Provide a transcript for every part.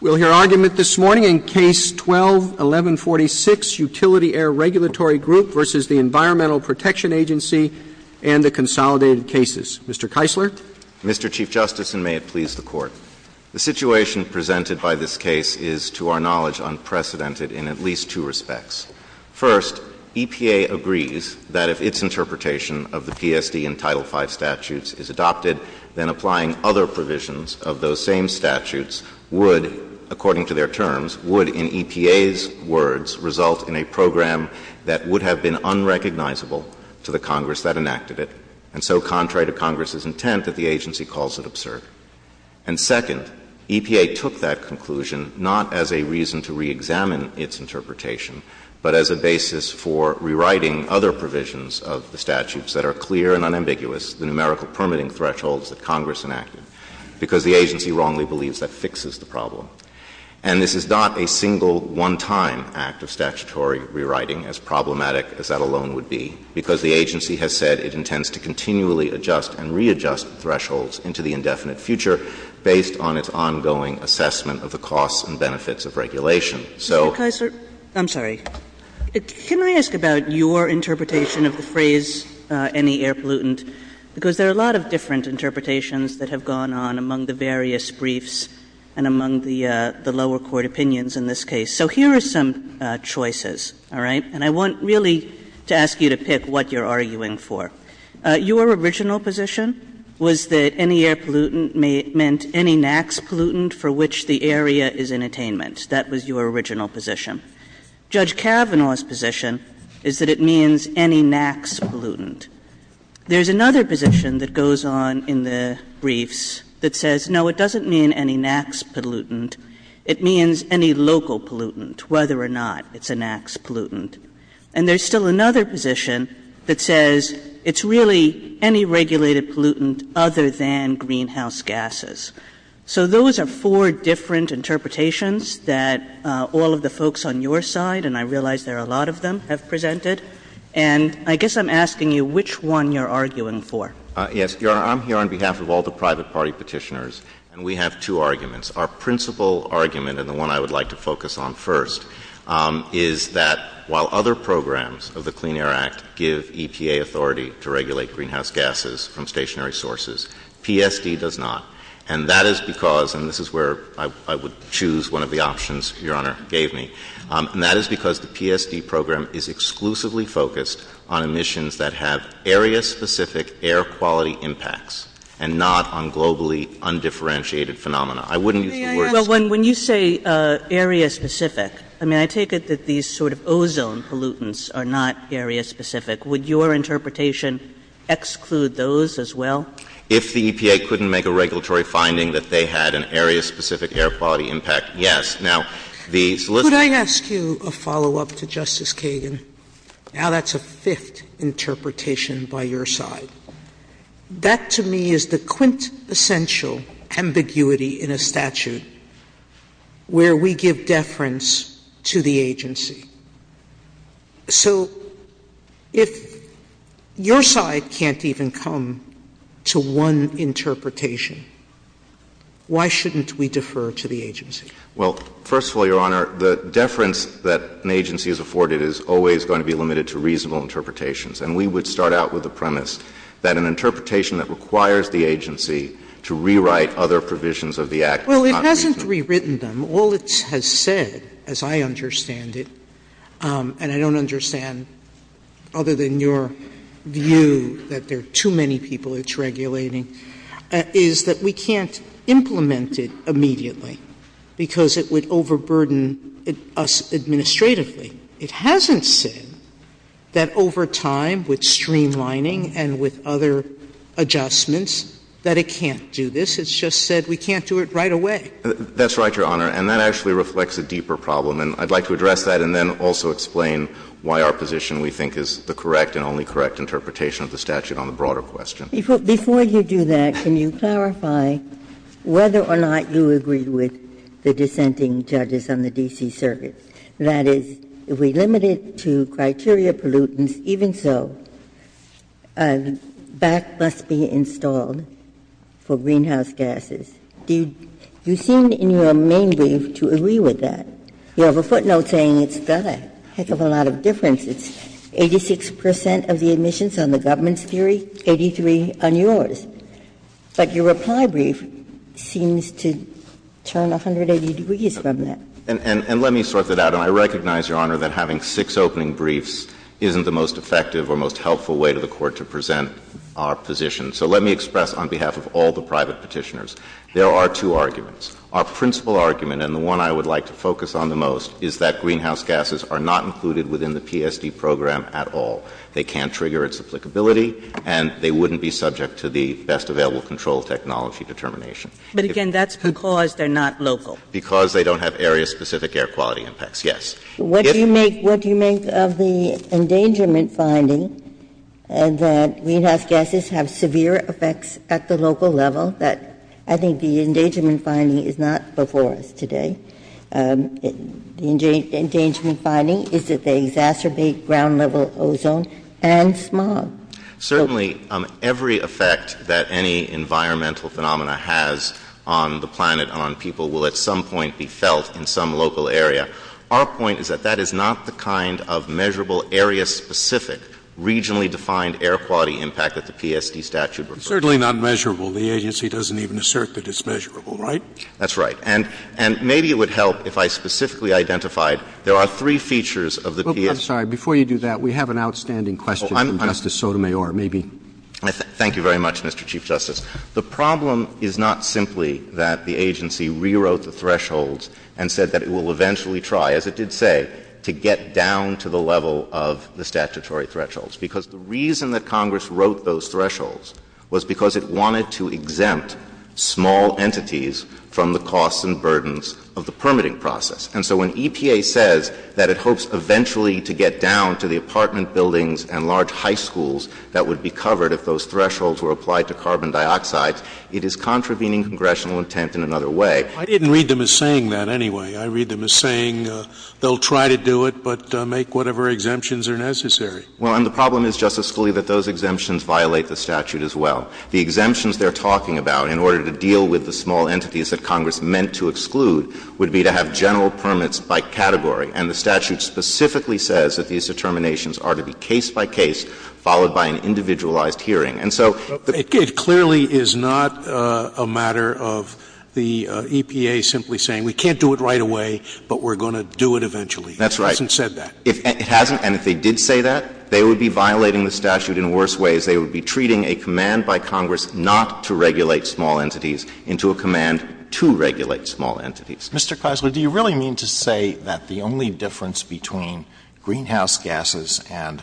We'll hear argument this morning in Case 12-1146, Utility Air Regulatory Group v. the Environmental Protection Agency and the Consolidated Cases. Mr. Keisler? Mr. Chief Justice, and may it please the Court, the situation presented by this case is, to our knowledge, unprecedented in at least two respects. First, EPA agrees that if its interpretation of the PSD and Title V statutes is adopted, then applying other provisions of those same statutes would, according to their terms, would, in EPA's words, result in a program that would have been unrecognizable to the Congress that enacted it, and so contrary to Congress's intent that the agency calls it absurd. And second, EPA took that conclusion not as a reason to reexamine its interpretation, but as a basis for rewriting other provisions of the statutes that are clear and unambiguous, the numerical permitting thresholds that Congress enacted, because the agency wrongly believes that fixes the problem. And this is not a single, one-time act of statutory rewriting, as problematic as that alone would be, because the agency has said it intends to continually adjust and readjust thresholds into the indefinite future based on its ongoing assessment of the costs and benefits of regulation. I'm sorry. Can I ask about your interpretation of the phrase any air pollutant? Because there are a lot of different interpretations that have gone on among the various briefs and among the lower court opinions in this case. So here are some choices, all right? And I want really to ask you to pick what you're arguing for. Your original position was that any air pollutant meant any NAAQS pollutant for which the area is in attainment. That was your original position. Judge Kavanaugh's position is that it means any NAAQS pollutant. There's another position that goes on in the briefs that says, no, it doesn't mean any NAAQS pollutant. It means any local pollutant, whether or not it's a NAAQS pollutant. And there's still another position that says it's really any regulated pollutant other than greenhouse gases. So those are four different interpretations that all of the folks on your side, and I realize there are a lot of them, have presented. And I guess I'm asking you which one you're arguing for. Yes. I'm here on behalf of all the private party petitioners, and we have two arguments. Our principal argument, and the one I would like to focus on first, is that while other programs of the Clean Air Act give EPA authority to regulate greenhouse gases from stationary sources, PSD does not. And that is because, and this is where I would choose one of the options Your Honor gave me, and that is because the PSD program is exclusively focused on emissions that have area-specific air quality impacts and not on globally undifferentiated phenomena. Well, when you say area-specific, I mean, I take it that these sort of ozone pollutants are not area-specific. Would your interpretation exclude those as well? If the EPA couldn't make a regulatory finding that they had an area-specific air quality impact, yes. Could I ask you a follow-up to Justice Kagan? Now that's a fifth interpretation by your side. That, to me, is the quintessential ambiguity in a statute where we give deference to the agency. So if your side can't even come to one interpretation, why shouldn't we defer to the agency? Well, first of all, Your Honor, the deference that an agency is afforded is always going to be limited to reasonable interpretations. And we would start out with the premise that an interpretation that requires the agency to rewrite other provisions of the Act is not reasonable. Well, it hasn't rewritten them. All it has said, as I understand it, and I don't understand other than your view that there are too many people it's regulating, is that we can't implement it immediately because it would overburden us administratively. It hasn't said that over time, with streamlining and with other adjustments, that it can't do this. It's just said we can't do it right away. That's right, Your Honor. And that actually reflects a deeper problem. And I'd like to address that and then also explain why our position, we think, is the correct and only correct interpretation of the statute on the broader question. Before you do that, can you clarify whether or not you agree with the dissenting judges on the D.C. Circuit? That is, if we limit it to criteria pollutants, even so, BAC must be installed for greenhouse gases. You seem in your main brief to agree with that. You have a footnote saying it's BAC. That's a lot of differences. Eighty-six percent of the emissions on the government's theory, 83 on yours. But your reply brief seems to turn 180 degrees from that. And let me sort that out. And I recognize, Your Honor, that having six opening briefs isn't the most effective or most helpful way to the Court to present our position. So let me express on behalf of all the private petitioners, there are two arguments. Our principal argument, and the one I would like to focus on the most, is that greenhouse gases are not included within the PSD program at all. They can't trigger its applicability, and they wouldn't be subject to the best available control technology determination. But, again, that's because they're not local. Because they don't have area-specific air quality effects, yes. What do you make of the endangerment finding that greenhouse gases have severe effects at the local level? I think the endangerment finding is not before us today. The endangerment finding is that they exacerbate ground-level ozone and smog. Certainly, every effect that any environmental phenomena has on the planet, on people, will at some point be felt in some local area. Our point is that that is not the kind of measurable, area-specific, regionally-defined air quality impact that the PSD statute refers to. It's certainly not measurable. The agency doesn't even assert that it's measurable, right? That's right. And maybe it would help if I specifically identified there are three features of the PSD. I'm sorry. Before you do that, we have an outstanding question from Justice Sotomayor. Maybe. Thank you very much, Mr. Chief Justice. The problem is not simply that the agency rewrote the thresholds and said that it will eventually try, as it did say, to get down to the level of the statutory thresholds. Because the reason that Congress wrote those thresholds was because it wanted to exempt small entities from the costs and burdens of the permitting process. And so when EPA says that it hopes eventually to get down to the apartment buildings and large high schools that would be covered if those thresholds were applied to carbon dioxide, it is contravening congressional intent in another way. I didn't read them as saying that anyway. I read them as saying they'll try to do it, but make whatever exemptions are necessary. Well, and the problem is, Justice Scalia, that those exemptions violate the statute as well. The exemptions they're talking about, in order to deal with the small entities that Congress meant to exclude, would be to have general permits by category. And the statute specifically says that these determinations are to be case-by-case, followed by an individualized hearing. And so... It clearly is not a matter of the EPA simply saying, we can't do it right away, but we're going to do it eventually. That's right. It hasn't said that. It hasn't. And if they did say that, they would be violating the statute in worse ways. They would be treating a command by Congress not to regulate small entities into a command to regulate small entities. Mr. Kressler, do you really mean to say that the only difference between greenhouse gases and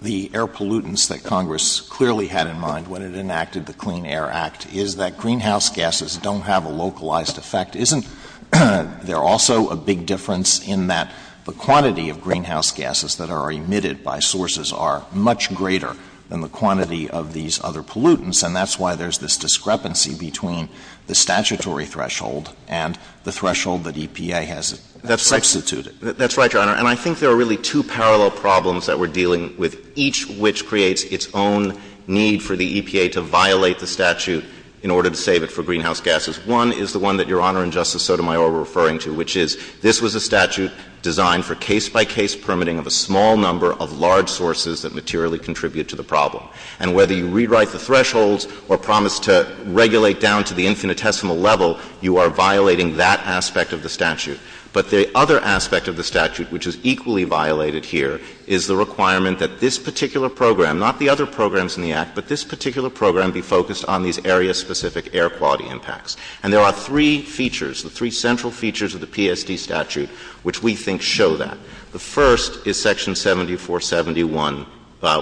the air pollutants that Congress clearly had in mind when it enacted the Clean Air Act is that greenhouse gases don't have a localized effect? Isn't there also a big difference in that the quantity of greenhouse gases that are emitted by sources are much greater than the quantity of these other pollutants? And that's why there's this discrepancy between the statutory threshold and the threshold that EPA has substituted. That's right, Your Honor. And I think there are really two parallel problems that we're dealing with, each which creates its own need for the EPA to violate the statute in order to save it for greenhouse gases. One is the one that Your Honor and Justice Sotomayor were referring to, which is this was a statute designed for case-by-case permitting of a small number of large sources that materially contribute to the problem. And whether you rewrite the thresholds or promise to regulate down to the infinitesimal level, you are violating that aspect of the statute. But the other aspect of the statute, which is equally violated here, is the requirement that this particular program, not the other programs in the Act, but this particular program be focused on these area-specific air quality impacts. And there are three features, the three central features of the PSD statute, which we think show that. The first is Section 7471,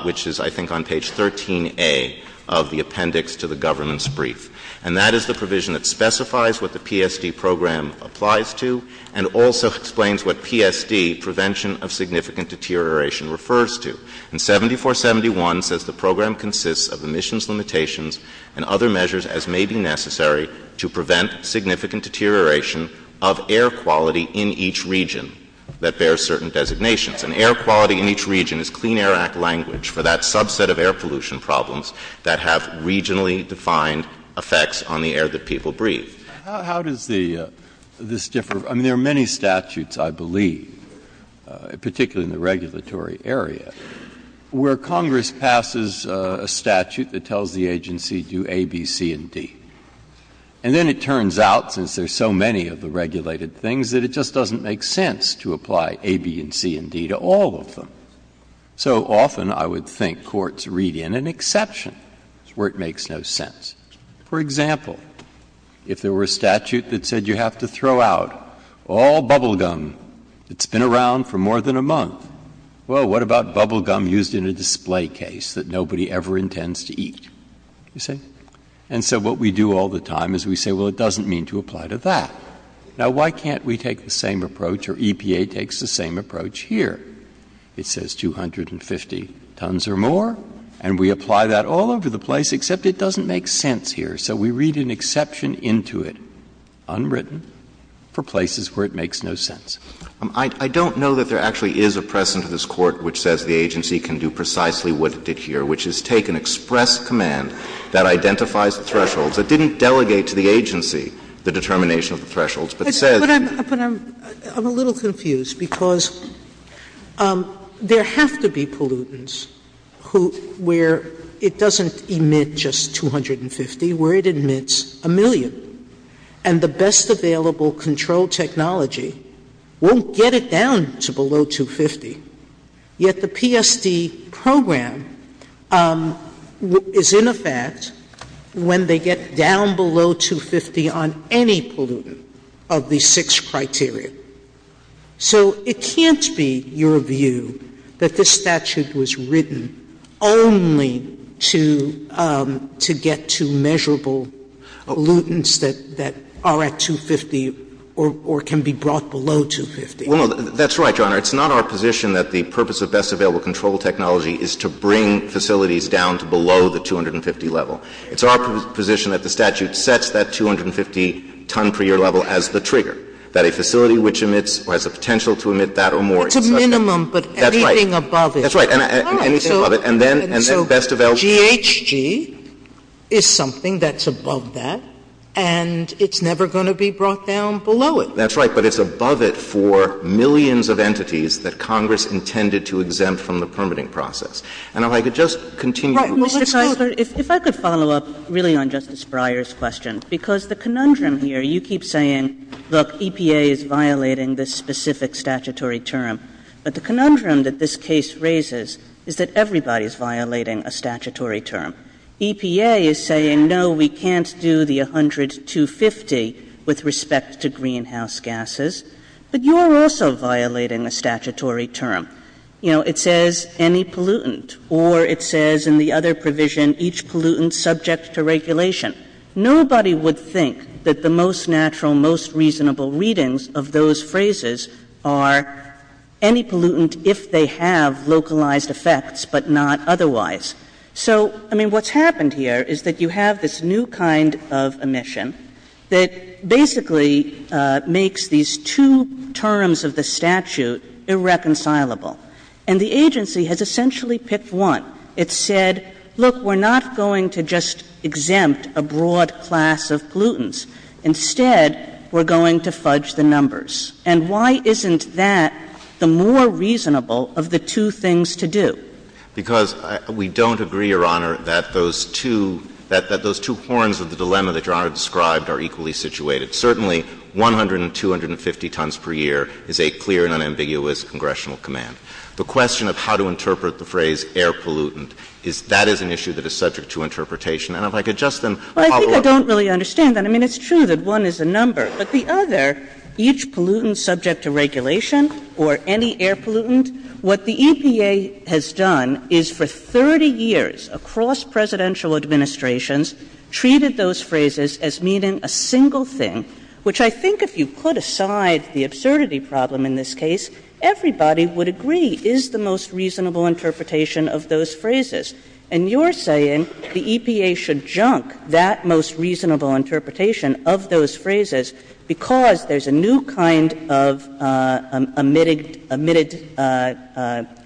which is, I think, on page 13A of the appendix to the government's brief. And that is the provision that specifies what the PSD program applies to and also explains what PSD, Prevention of Significant Deterioration, refers to. And 7471 says the program consists of emissions limitations and other measures, as may be necessary, to prevent significant deterioration of air quality in each region that bears certain designations. And air quality in each region is Clean Air Act language for that subset of air pollution problems that have regionally defined effects on the air that people breathe. How does this differ? I mean, there are many statutes, I believe, particularly in the regulatory area, where Congress passes a statute that tells the agency to do A, B, C, and D. And then it turns out, since there's so many of the regulated things, that it just doesn't make sense to apply A, B, and C, and D to all of them. So often, I would think, courts read in an exception where it makes no sense. For example, if there were a statute that said you have to throw out all bubble gum that's been around for more than a month, well, what about bubble gum used in a display case that nobody ever intends to eat? And so what we do all the time is we say, well, it doesn't mean to apply to that. Now, why can't we take the same approach, or EPA takes the same approach, here? It says 250 tons or more, and we apply that all over the place, except it doesn't make sense here. So we read an exception into it, unwritten, for places where it makes no sense. I don't know that there actually is a precedent in this Court which says the agency can do precisely what it did here, which is take an express command that identifies thresholds, that didn't delegate to the agency the determination of the thresholds, but says... I'm a little confused, because there have to be pollutants where it doesn't emit just 250, where it emits a million. And the best available control technology won't get it down to below 250, yet the PSD program is in effect when they get down below 250 on any pollutant of these six criteria. So it can't be your view that this statute was written only to get to measurable pollutants that are at 250 or can be brought below 250. That's right, Your Honor. It's not our position that the purpose of best available control technology is to bring facilities down to below the 250 level. It's our position that the statute sets that 250 ton per year level as the trigger, that a facility which has the potential to emit that or more. It's a minimum, but anything above it... That's right, anything above it. GHG is something that's above that, and it's never going to be brought down below it. That's right, but it's above it for millions of entities that Congress intended to exempt from the permitting process. And if I could just continue... If I could follow up really on Justice Breyer's question, because the conundrum here, you keep saying EPA is violating this specific statutory term, but the conundrum that this case raises is that everybody is violating a statutory term. EPA is saying, no, we can't do the 100 to 250 with respect to greenhouse gases, but you're also violating a statutory term. It says any pollutant, or it says in the other provision each pollutant subject to regulation. Nobody would think that the most natural, most reasonable readings of those phrases are any pollutant if they have localized effects, but not otherwise. So, I mean, what's happened here is that you have this new kind of omission that basically makes these two terms of the statute irreconcilable. And the agency has essentially picked one. It said, look, we're not going to just exempt a broad class of pollutants. Instead, we're going to fudge the numbers. And why isn't that the more reasonable of the two things to do? Because we don't agree, Your Honor, that those two forms of the dilemma that Your Honor described are equally situated. Certainly, 100 and 250 tons per year is a clear and unambiguous congressional command. The question of how to interpret the phrase air pollutant, that is an issue that is not a reasonable interpretation. Well, I think I don't really understand that. I mean, it's true that one is a number, but the other, each pollutant subject to regulation, or any air pollutant, what the EPA has done is for 30 years, across presidential administrations, treated those phrases as meaning a single thing, which I think if you put aside the absurdity problem in this case, everybody would agree is the most reasonable interpretation of those phrases. And you're saying the EPA should junk that most reasonable interpretation of those phrases because there's a new kind of emitted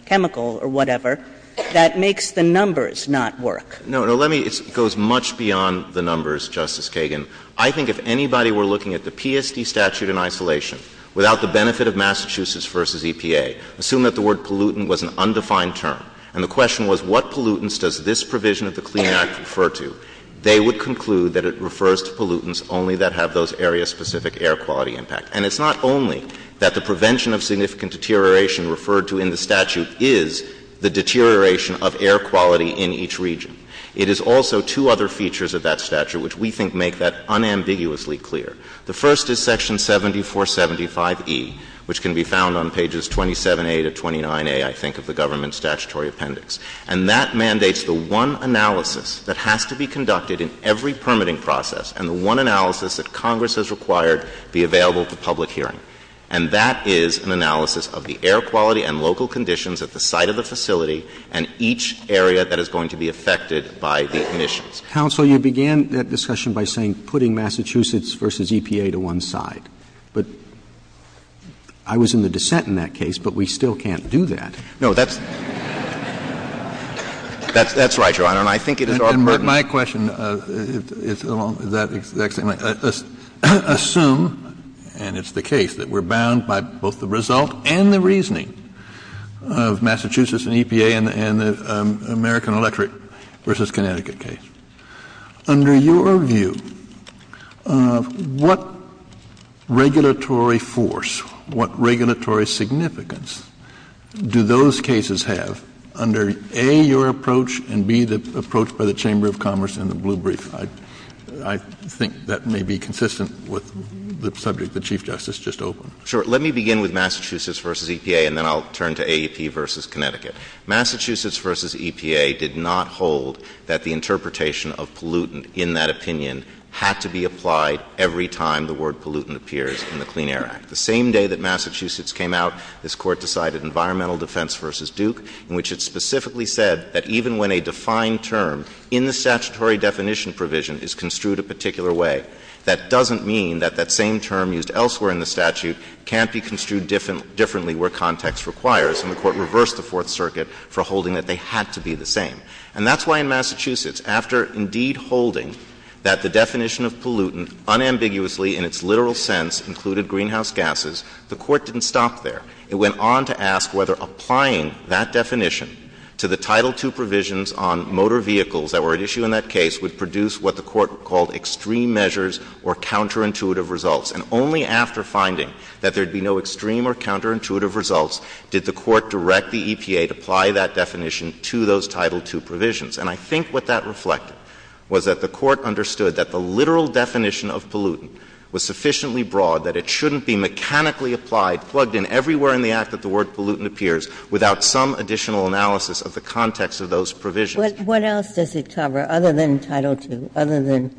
chemical, or whatever, that makes the numbers not work. No, let me go as much beyond the numbers, Justice Kagan. I think if anybody were looking at the PSD statute in isolation without the benefit of Massachusetts versus EPA, assume that the word pollutant was an undefined term, and the question was what pollutants does this provision of the CLEAN Act refer to, they would conclude that it refers to pollutants only that have those area-specific air quality impacts. And it's not only that the prevention of significant deterioration referred to in the statute is the deterioration of air quality in each region. It is also two other features of that statute which we think make that unambiguously clear. The first is section 7475E, which can be found on pages 27A to 29A, I think, of the government's statutory appendix. And that mandates the one analysis that has to be conducted in every permitting process, and the one analysis that Congress has required be available to public hearing. And that is an analysis of the air quality and local conditions at the site of the facility and each area that is going to be affected by the emissions. Counsel, you began that discussion by saying putting Massachusetts versus EPA to one side. But I was in the dissent in that case, but we still can't do that. No, that's... That's right, Your Honor, and I think it is our... My question is assume, and it's the case, that we're bound by both the result and the reasoning of Massachusetts and EPA and the American Electric versus Connecticut case. Under your view, what regulatory force, what regulatory significance do those cases have under, A, your approach, and B, the approach by the Chamber of Commerce and the Blue Brief? I think that may be consistent with the subject the Chief Justice just opened. Sure. Let me begin with Massachusetts versus EPA, and then I'll turn to AEP versus Connecticut. Massachusetts versus EPA did not hold that the interpretation of pollutant in that opinion had to be applied every time the word pollutant appears in the Clean Air Act. The same day that Massachusetts came out, this Court decided environmental defense versus Duke, in which it specifically said that even when a defined term in the statutory definition provision is construed a particular way, that doesn't mean that that same term used elsewhere in the statute can't be construed differently where context requires. And the Court reversed the Fourth Circuit for holding that they had to be the same. And that's why in Massachusetts, after indeed holding that the definition of pollutant unambiguously in its literal sense included greenhouse gases, the Court didn't stop there. It went on to ask whether applying that definition to the Title II provisions on motor vehicles that were at issue in that case would produce what the Court called extreme measures or counterintuitive results. And only after finding that there'd be no extreme or counterintuitive results did the Court direct the EPA to apply that definition to those Title II provisions. And I think what that reflected was that the Court understood that the literal definition of pollutant was sufficiently broad that it shouldn't be mechanically applied, plugged in everywhere in the Act that the word pollutant appears without some additional analysis of the context of those provisions. What else does it cover other than Title II, other than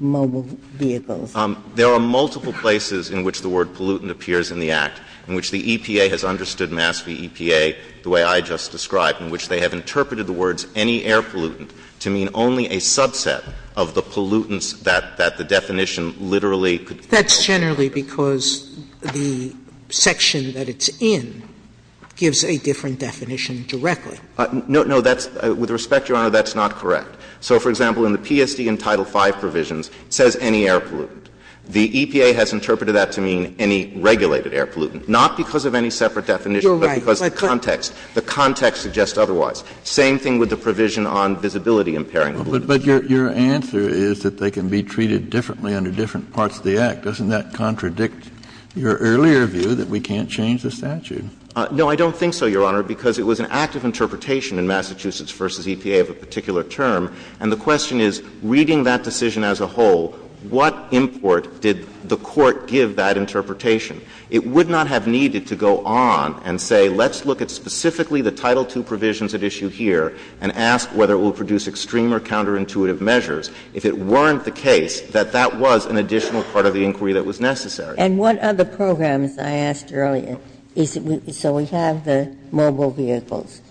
mobile vehicles? There are multiple places in which the word pollutant appears in the Act in which the EPA has understood the EPA the way I just described in which they have interpreted the words any air pollutant to mean only a subset of the pollutants that the definition literally That's generally because the section that it's in gives a different definition directly. With respect, Your Honor, that's not correct. So, for example, in the PSD and Title V provisions, it says any air pollutant. The EPA has interpreted that to mean any regulated air pollutant, not because of any separate definition but because of context. The context suggests otherwise. Same thing with the provision on visibility impairing. But your answer is that they can be treated differently under different parts of the Act. Doesn't that contradict your earlier view that we can't change the statute? No, I don't think so, Your Honor, because it was an active interpretation in Massachusetts v. EPA of a particular term. And the question is, reading that decision as a whole, what import did the Court give that interpretation? It would not have needed to go on and say, let's look at specifically the Title II provisions at issue here and ask whether it will produce extreme or counterintuitive measures if it weren't the case that that was an additional part of the inquiry that was necessary. And what other programs, I asked earlier, is it so we have the mobile vehicles?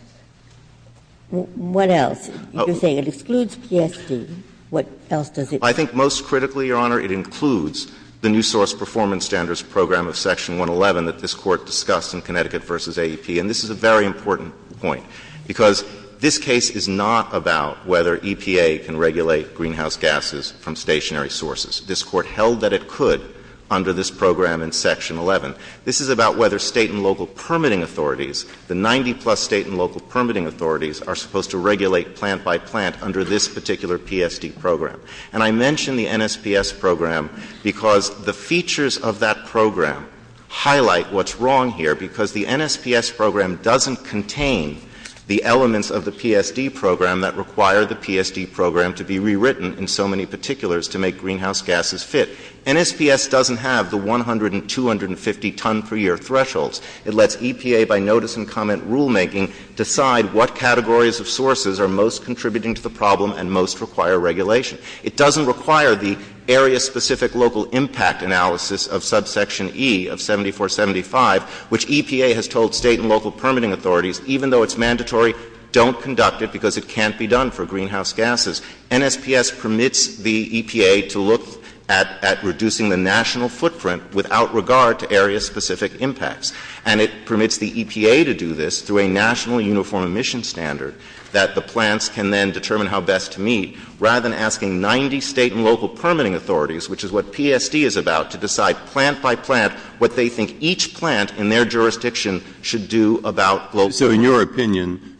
What else? You're saying it excludes PSD. What else does it include? I think most critically, Your Honor, it includes the new source performance standards program of Section 111 that this Court discussed in Connecticut v. AEP. And this is a very important point, because this case is not about whether EPA can regulate greenhouse gases from stationary sources. This Court held that it could under this program in Section 11. This is about whether state and local permitting authorities, the 90-plus state and local permitting authorities, are supposed to regulate plant-by- plant under this particular PSD program. And I mention the NSPS program because the features of that program highlight what's wrong here, because the NSPS program doesn't contain the elements of the PSD program that require the PSD program to be rewritten in so many particulars to make greenhouse gases fit. NSPS doesn't have the 100 and 250 ton-per-year thresholds. It lets EPA, by notice and comment rulemaking, decide what categories of sources are most contributing to the problem and most require regulation. It doesn't require the area-specific local impact analysis of subsection E of 7475, which EPA has told state and local permitting authorities, even though it's mandatory, don't conduct it because it can't be done for greenhouse gases. NSPS permits the EPA to look at reducing the national footprint without regard to area-specific impacts. And it permits the EPA to do this through a nationally uniform emission standard that the plants can then determine how best to meet, rather than asking 90 state and local permitting authorities, which is what PSD is about, to decide plant by plant what they think each plant in their jurisdiction should do about local permitting. So in your opinion,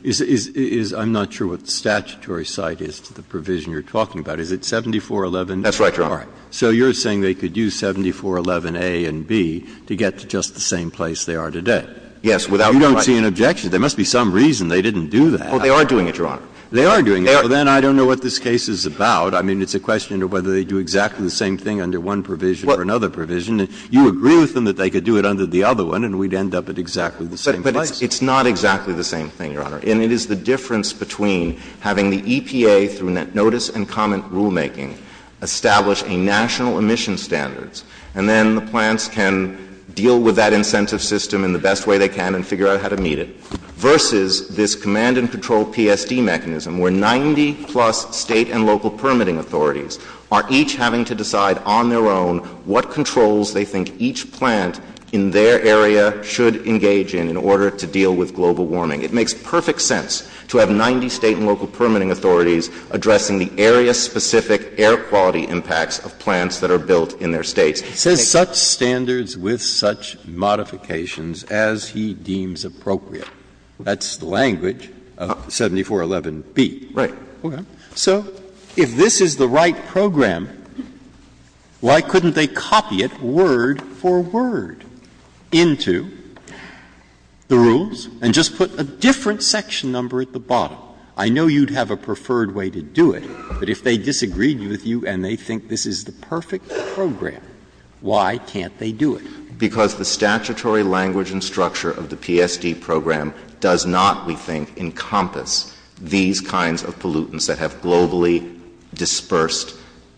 I'm not sure what the statutory site is to the provision you're talking about. Is it 7411- That's right, Your Honor. So you're saying they could use 7411A and B to get to just the same place they are today? Yes, without- You don't see an objection. There must be some reason they didn't do that. They are doing it, Your Honor. Then I don't know what this case is about. It's a question of whether they do exactly the same thing under one provision or another provision. You agree with them that they could do it under the other one and we'd end up at exactly the same place. But it's not exactly the same thing, Your Honor. And it is the difference between having the EPA, through notice and comment rulemaking, establish a national emission standard and then the plants can deal with that incentive system in the best way they can and figure out how to meet it, versus this command and control PSC mechanism where 90 plus state and local permitting authorities are each having to decide on their own what controls they think each plant in their area should engage in in order to deal with global warming. It makes perfect sense to have 90 state and local permitting authorities addressing the area-specific air quality impacts of plants that are built in their states. Is there such standards with such modifications as has to have a standard that the state or local authority deems appropriate? That's the language of 7411B. Right. Okay. So if this is the right program, why couldn't they copy it word for word into the rules and just put a different section number at the bottom? I know you'd have a preferred way to do it, but if they disagreed with you and they think this is the perfect program, why can't they do it? Because the statutory language and structure of the PSD program does not, we think, encompass these kinds of pollutants that have globally dispersed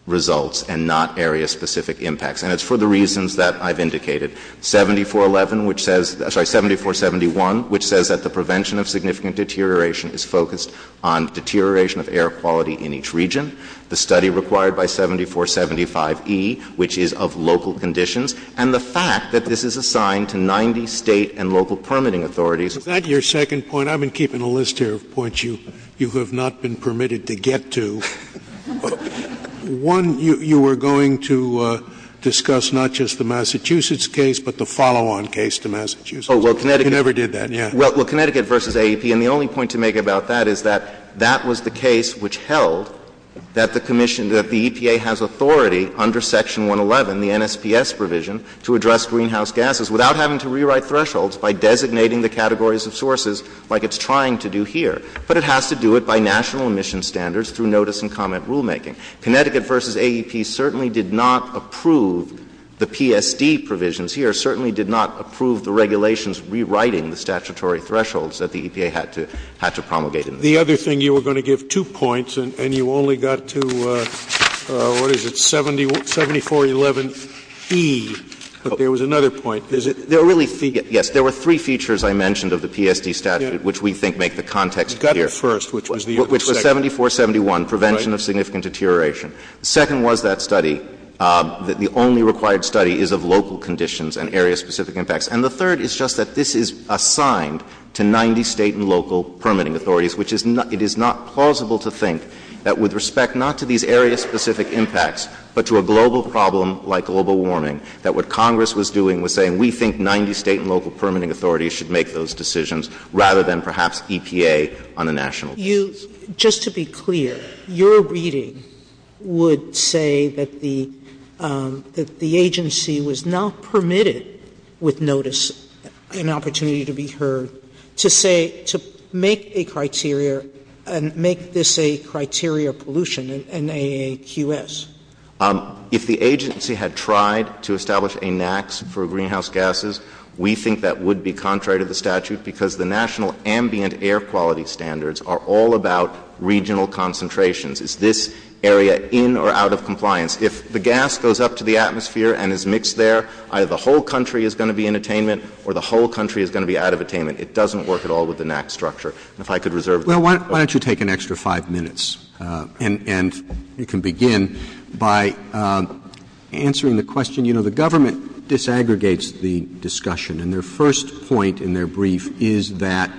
results and not area-specific impacts. And it's for the reasons that I've indicated. 7411, which says, sorry, 7471, which says that the prevention of significant deterioration is focused on deterioration of air quality in each region, the study required by 7475E, which is of local conditions, and the fact that this is assigned to 90 state and local permitting authorities. Is that your second point? I've been keeping a list here of points you have not been permitted to get to. One, you were going to discuss not just the Massachusetts case but the follow-on case to Massachusetts. You never did that. Well, Connecticut v. AEP, and the only point to make about that is that that was the case which held that the commission, that the EPA has authority under Section 111, the NSPS provision, to address greenhouse gases without having to rewrite thresholds by designating the categories of sources like it's trying to do here. But it has to do it by national emission standards through notice and comment rulemaking. Connecticut v. AEP certainly did not approve the PSD provisions here, certainly did not approve the regulations rewriting the statutory thresholds that the EPA had to promulgate. The other thing, you were going to give two points and you only got to what is it, 74-11E, but there was another point. Yes, there were three features I mentioned of the PSD statute which we think make the context clear. You got the first, which was the which was 74-71, prevention of significant deterioration. The second was that study, that the only required study is of local conditions and area-specific impacts. And the third is just that this is assigned to 90 state and local permitting authorities, which is not, it is not plausible to think that with respect not to these area-specific impacts, but to a global problem like global warming, that what Congress was doing was saying we think 90 state and local permitting authorities should make those decisions rather than perhaps EPA on a national level. Just to be clear, your reading would say that the agency was not permitted with notice, an opportunity to be heard, to say, to make a criteria and make this a criteria of pollution, an AQS. If the agency had tried to establish a NAAQS for greenhouse gases, we think that would be contrary to the statute because the national ambient air quality standards are all about regional concentrations. Is this area in or out of compliance? If the gas goes up to the atmosphere and is mixed there, either the whole country is going to be in attainment or the whole country is going to be out of attainment. It doesn't work at all with the NAAQS structure. If I could reserve... Why don't you take an extra five minutes and we can begin by answering the question. You know, the government disaggregates the discussion and their first point in their brief is that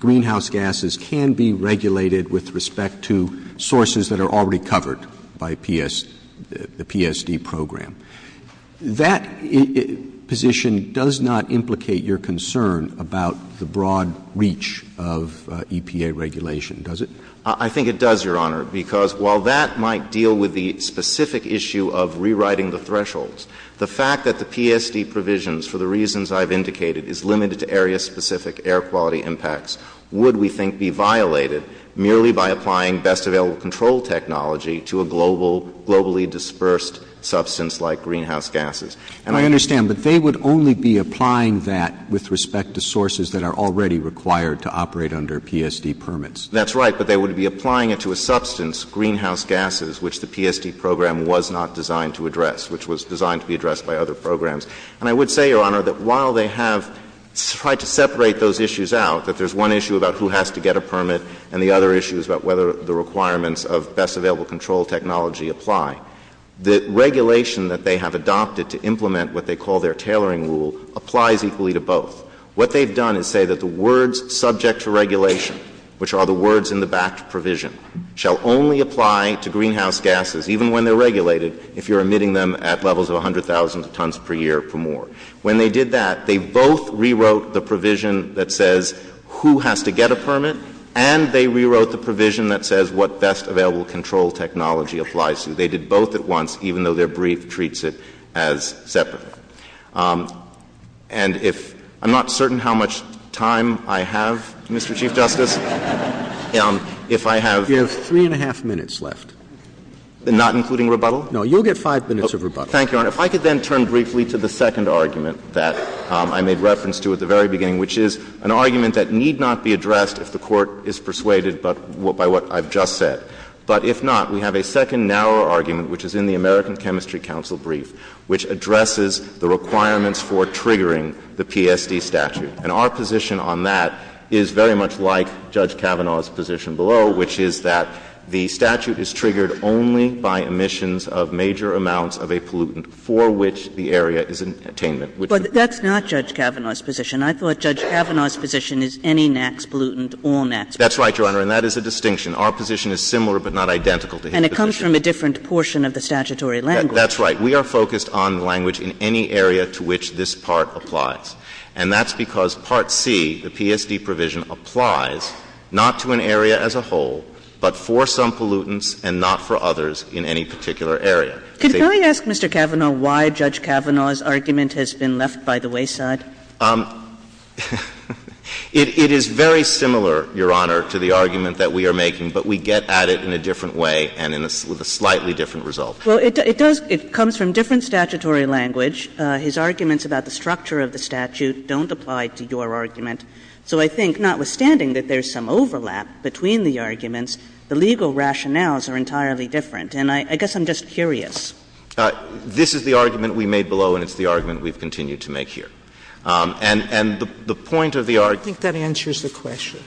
greenhouse gases can be regulated with respect to sources that are already covered by the PSD program. That position does not implicate your concern about the broad reach of EPA regulation, does it? I think it does, Your Honor, because while that might deal with the specific issue of rewriting the thresholds, the fact that the PSD provisions, for the reasons I've indicated, is limited to area-specific air quality impacts, would we think be violated merely by applying best available control technology to a globally dispersed substance like greenhouse gases? I understand, but they would only be applying that with respect to sources that are already required to operate under PSD permits. That's right, but they would be applying it to a substance, greenhouse gases, which the PSD program was not designed to address, which was designed to be addressed by other programs. And I would say, Your Honor, that while they have tried to separate those issues out, that there's one issue about who has to get a permit, and the other issues about whether the requirements of best available control technology apply, the regulation that they have adopted to implement what they call their tailoring rule applies equally to both. What they've done is say that the words subject to regulation, which are the words in the batch provision, shall only apply to greenhouse gases, even when they're regulated, if you're emitting them at levels of 100,000 tons per year or more. When they did that, they both rewrote the provision that says who has to get a permit, and they rewrote the provision that says what best available control technology applies to. They did both at once, even though their brief treats it as separate. And if — I'm not certain how much time I have, Mr. Chief Justice. If I have — You have three and a half minutes left. Not including rebuttal? No, you'll get five minutes of rebuttal. Thank you, Your Honor. If I could then turn briefly to the second argument that I made reference to at the very beginning, which is an argument that need not be addressed if the Court is persuaded by what I've just said. But if not, we have a second, narrower argument, which is in the American Chemistry Council brief, which addresses the requirements for triggering the PSD statute. And our position on that is very much like Judge Kavanaugh's position below, which is that the statute is triggered only by emissions of major amounts of a pollutant for which the area is in attainment. But that's not Judge Kavanaugh's position. I thought Judge Kavanaugh's position is any NAAQS pollutant, all NAAQS pollutants. That's right, Your Honor, and that is the distinction. Our position is similar but not identical to his position. And it comes from a different portion of the statutory language. That's right. We are focused on language in any area to which this part applies. And that's because Part C, the PSD provision, applies not to an area as a whole, but for some pollutants and not for others in any particular area. Could I ask Mr. Kavanaugh why Judge Kavanaugh's argument has been left by the wayside? It is very similar, Your Honor, to the argument that we are making, but we get at it in a different way and with a slightly different result. Well, it does — it comes from different statutory language. His arguments about the structure of the statute don't apply to your argument. So I think, notwithstanding that there's some overlap between the arguments, the legal rationales are entirely different. And I guess I'm just curious. This is the argument we made below and it's the argument we've continued to make here. And the point of the argument — I think that answers the question.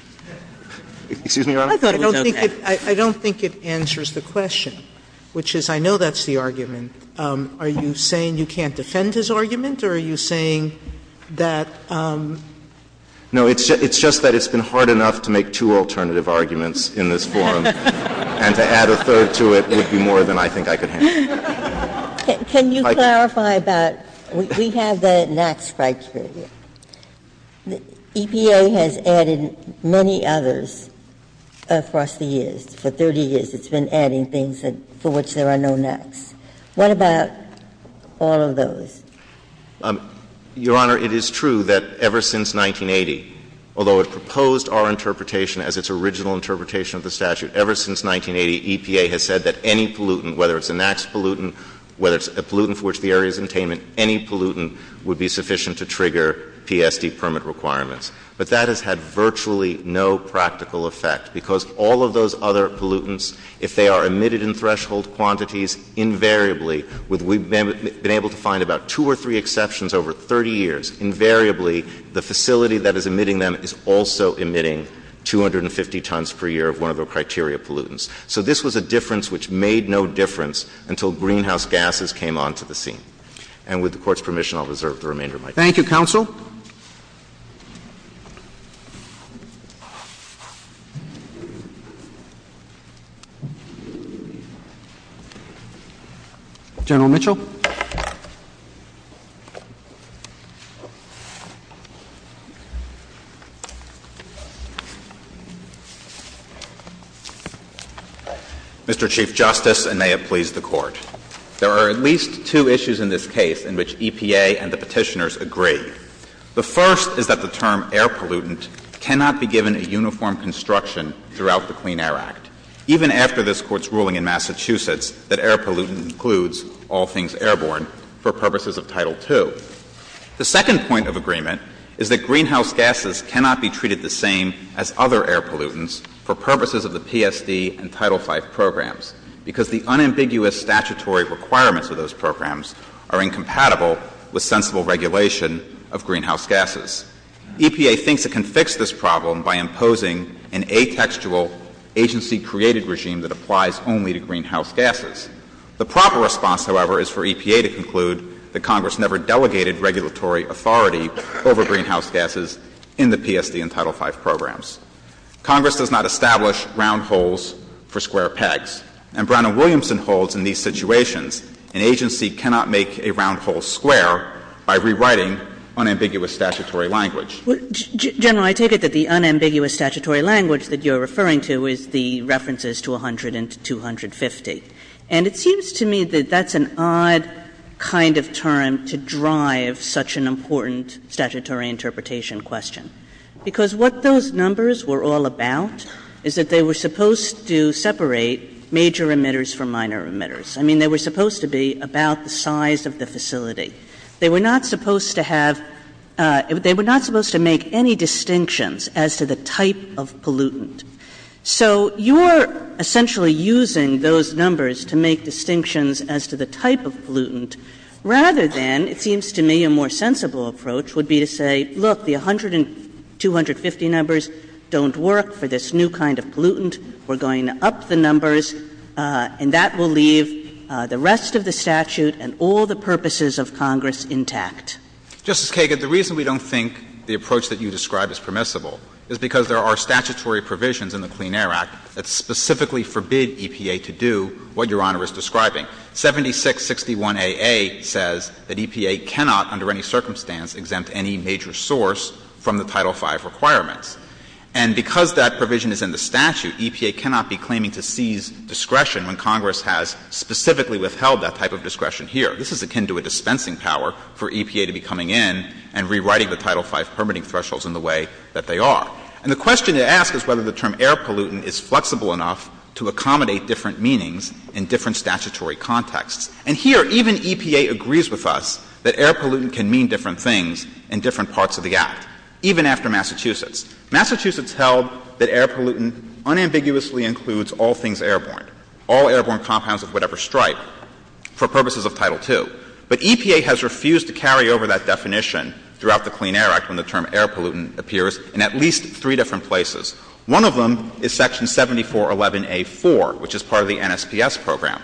Excuse me, Your Honor? I don't think it answers the question, which is I know that's the argument. Are you saying you can't defend his argument or are you saying that — No, it's just that it's been hard enough to make two alternative arguments in this forum and to add a third to it would be more than I think I could handle. Can you clarify about — we have the NAAQS criteria. The EPA has added many others across the years. For 30 years it's been adding things for which there are no NAAQS. What about all of those? Your Honor, it is true that ever since 1980, although it proposed our interpretation as its original interpretation of the statute, ever since 1980, EPA has said that any pollutant, whether it's a NAAQS pollutant, whether it's a pollutant for which the area is containment, any pollutant would be sufficient to trigger PSP permit requirements. But that has had virtually no practical effect because all of those other pollutants, if they are emitted in threshold quantities, invariably — we've been able to find about two or three exceptions over 30 years — invariably the facility that is emitting them is also emitting 250 tons per year of one of the criteria pollutants. So this was a difference which made no difference until greenhouse gases came onto the scene. And with the Court's permission, I'll reserve the remainder of my time. Thank you, Counsel. General Mitchell? Mr. Chief Justice, and may it please the Court, there are at least two issues in this case in which EPA and the Petitioners agree. The first is that the term air pollutant cannot be given a uniform construction throughout the Clean Air Act, even after this Court's ruling in Massachusetts that air pollutant includes of Title II. The second point of agreement is that greenhouse gases cannot be given a uniform construction throughout the Clean Air Act, even after this Court's ruling in Massachusetts that air pollutant includes air pollutants for purposes of the PSD and Title V programs, because the unambiguous statutory requirements of those programs are incompatible with sensible regulation of greenhouse gases. EPA thinks it can fix this problem by imposing an atextual, agency-created regime that applies only to greenhouse gases. The proper response, however, is for EPA to conclude that Congress never delegated regulatory authority over greenhouse gases in the PSD and Title V programs. Congress does not establish round holes for square pegs. And Brown and Williamson holds in these situations an agency cannot make a round hole square by rewriting unambiguous statutory language. General, I take it that the unambiguous statutory language that you're referring to is the references to 100 and 250. And it seems to me that that's an odd kind of term to drive such an important statutory interpretation question. Because what those numbers were all about is that they were supposed to separate major emitters from minor emitters. I mean, they were supposed to be about the size of the facility. They were not supposed to have, they were not supposed to make any distinctions as to the type of pollutant. So you're essentially using those numbers to make distinctions as to the type of pollutant rather than it seems to me a more sensible approach would be to say, look, the 100 and 250 numbers don't work for this new kind of pollutant. We're going to up the numbers and that will leave the rest of the statute and all the purposes of Congress intact. Justice Kagan, the reason we don't think the approach that you describe is permissible is because there are statutory provisions in the Clean Air Act that specifically forbid EPA to do what Your Honor is describing. 7661AA says that EPA cannot under any circumstance exempt any major source from the Title V requirement. And because that provision is in the statute, EPA cannot be claiming to seize discretion when Congress has specifically withheld that type of discretion here. This is akin to a dispensing power for EPA to be coming in and rewriting the Title V permitting thresholds in the way that they are. And the question to ask is whether the term air pollutant is flexible enough to accommodate different meanings in different statutory contexts. And here even EPA agrees with us that air pollutant can mean different things in different parts of the Act, even after Massachusetts. Massachusetts held that air pollutant unambiguously includes all things airborne, all airborne compounds of whatever stripe for purposes of Title II. But EPA has refused to carry over that definition throughout the Clean Air Act when the term air pollutant appears in at least three different places. One of them is Section 7411A4, which is part of the NSPS program.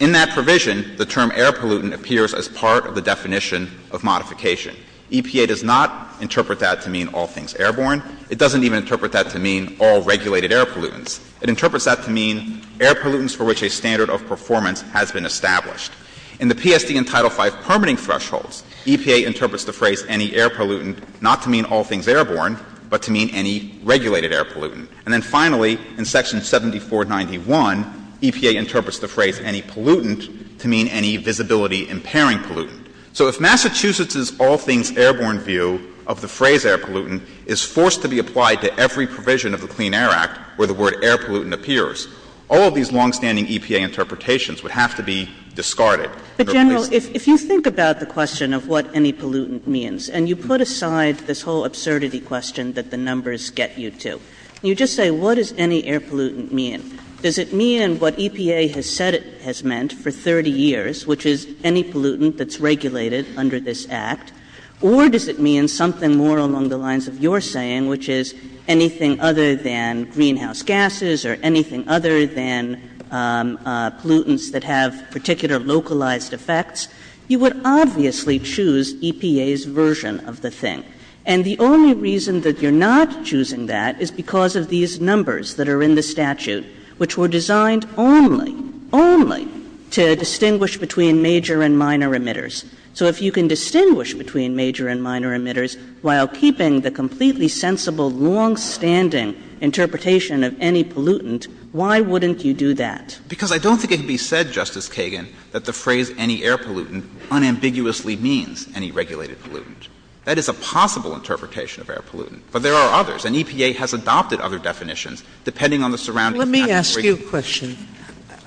In that provision, the term air pollutant appears as part of the definition of modification. EPA does not interpret that to mean all things airborne. It doesn't even interpret that to mean all regulated air pollutants. It interprets that to mean air pollutants for which a standard of performance has been established. In the PSD and Title V permitting thresholds, EPA interprets the phrase any air pollutant not to mean all things airborne, but to mean any regulated air pollutant. And then finally, in Section 7491, EPA interprets the phrase any pollutant to mean any visibility-impairing pollutant. So if Massachusetts's all things airborne view of the phrase air pollutant is forced to be applied to every provision of the Clean Air Act where the word air pollutant appears, all of these long-standing EPA interpretations would have to be discarded. But, Daniel, if you look at what air pollutant means, and you put aside this whole absurdity question that the numbers get you to, you just say, what does any air pollutant mean? Does it mean what EPA has said it has meant for 30 years, which is any pollutant that's regulated under this Act? Or does it mean something more along the lines of your saying, which is anything other than greenhouse gases or anything other than pollutants that have particular localized effects? You would obviously choose EPA's version of the thing. And the only reason that you're not choosing that is because of these numbers that are in the statute, which were designed only, only, to distinguish between major and minor emitters. So if you can distinguish between major and minor emitters while keeping the completely sensible, long-standing pollutant, why wouldn't you do that? Because I don't think it can be said, Justice Sotomayor, that air pollutant unambiguously means any regulated pollutant. That is a possible interpretation of air pollutant, but there are others, and EPA has adopted other definitions depending on the surroundings. Let me ask you a question.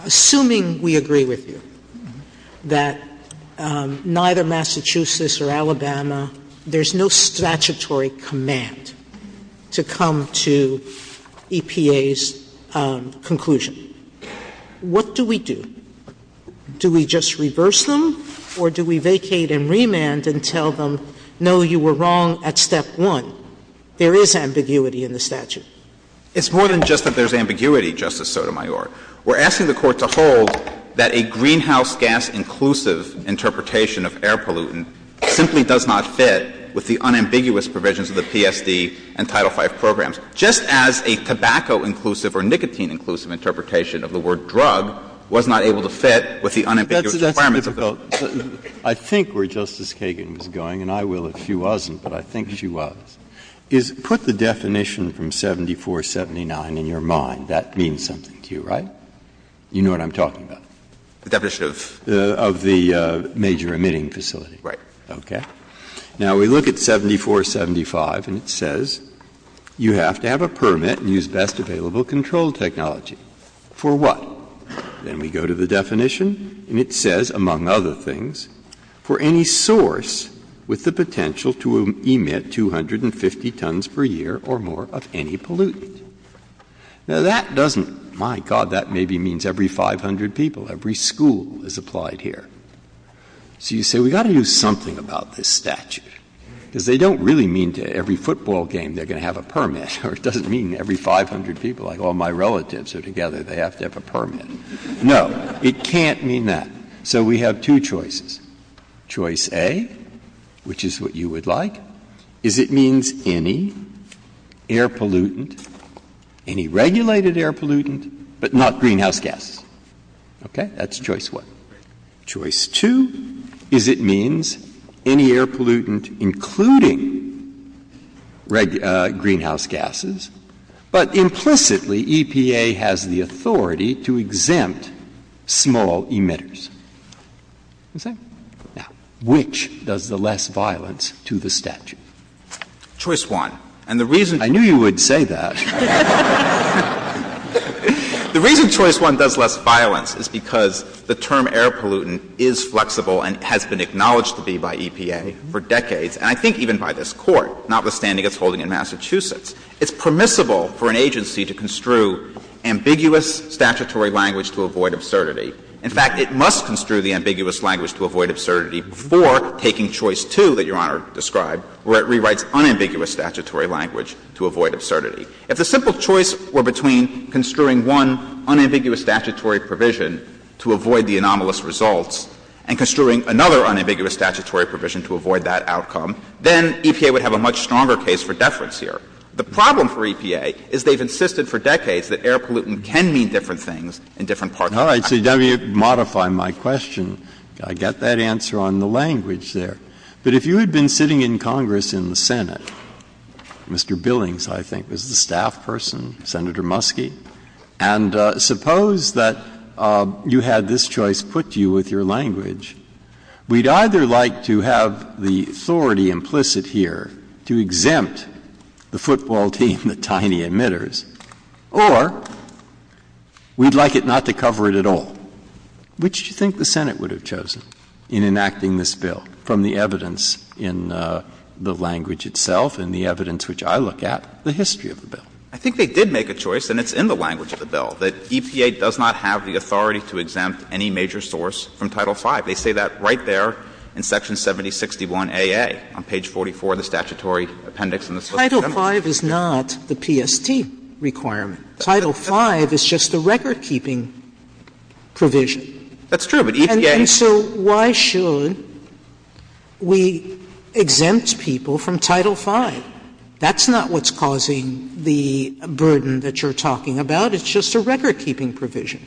Assuming we agree with you that neither Massachusetts or Alabama, there's no statutory command to come to EPA's conclusion. What do we do? Do we just reverse them, or do we vacate and remand and tell them, no, you were wrong at step one? There is ambiguity in the statute. It's more than just that there's ambiguity, Justice Sotomayor. We're asking the Court to hold that a greenhouse gas inclusive interpretation of air pollutant simply does not fit with the unambiguous provisions of the PSD and Title V programs. Just as a tobacco-inclusive or nicotine-inclusive interpretation of the word drug was not able to fit with the unambiguous requirements of both. I think where Justice Kagan was going, and I will if she wasn't, but I think she was, is put the definition from 7479 in your mind. That means something to you, right? You know what I'm talking about. The definition of the major emitting facility. Right. Okay. Now we look at 7475 and it says you have to have a permit and use best available control technology. For what? Then we go to the definition and it says, among other things, for any source with the potential to emit 250 tons per year or more of any pollutant. Now that doesn't, my God, that maybe means every 500 people, every school is applied here. So you say we've got to use something about this statute because they don't really mean to every It doesn't mean every 500 people, like all my relatives are together, they have to have a permit. No, it can't mean that. So we have two choices. Choice A, which is what you would like, is it means any air pollutant, any regulated air pollutant, but not greenhouse gases. Okay. That's choice one. Choice two is it means any air pollutant including greenhouse gases but implicitly EPA has the authority to exempt small emitters. Which does the less violence to the statute? Choice one. I knew you would say that. The reason choice one does less violence is because the term air pollutant is flexible and has been acknowledged to be by EPA for decades and I think even by this Court, notwithstanding its holding in Massachusetts. It's permissible for an agency to construe ambiguous statutory language to avoid absurdity. In fact, it must construe the ambiguous language to avoid absurdity before taking choice two that Your Honor described where it rewrites unambiguous statutory language to avoid absurdity. If the simple choice were between construing one unambiguous statutory provision to avoid the anomalous results and construing another unambiguous statutory provision to avoid that outcome, then EPA would have a much stronger case for deference here. The problem for EPA is they've insisted for decades that air pollutant can mean different things in different parts of the country. Now you've modified my question. I get that answer on the language there. But if you had been sitting in Congress in the Senate Mr. Billings, I think was the staff person, Senator Muskie, and suppose that you had this choice put to you with your language we'd either like to have the authority implicit here to exempt the football team, the tiny emitters, or we'd like it not to cover it at all. Which do you think the Senate would have chosen in enacting this bill from the evidence in the language itself and the evidence which I look at, the history of the bill? I think they did make a choice, and it's in the language of the bill, that EPA does not have the authority to exempt any major source from Title V. They say that right there in Section 7061 AA on page 44 of the statutory appendix in the Social Security Act. Title V is not the PST requirement. Title V is just a record-keeping provision. That's true, but EPA... And so why should we exempt people from Title V? That's not what's causing the burden that you're talking about. It's just a record-keeping provision.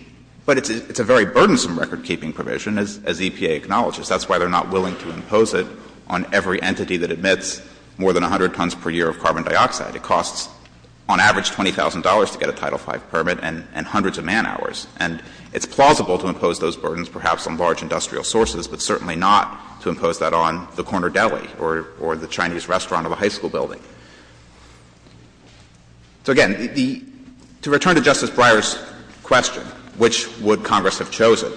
But it's a very burdensome record-keeping provision, as EPA acknowledges. That's why they're not willing to impose it on every entity that emits more than 100 tons per year of carbon dioxide. It costs, on average, $20,000 to get a Title V permit and hundreds of man-hours. And it's plausible to impose those burdens, perhaps on large industrial sources, but certainly not to impose that on the corner deli or the Chinese restaurant of a high school building. So again, the... The first question, which would Congress have chosen?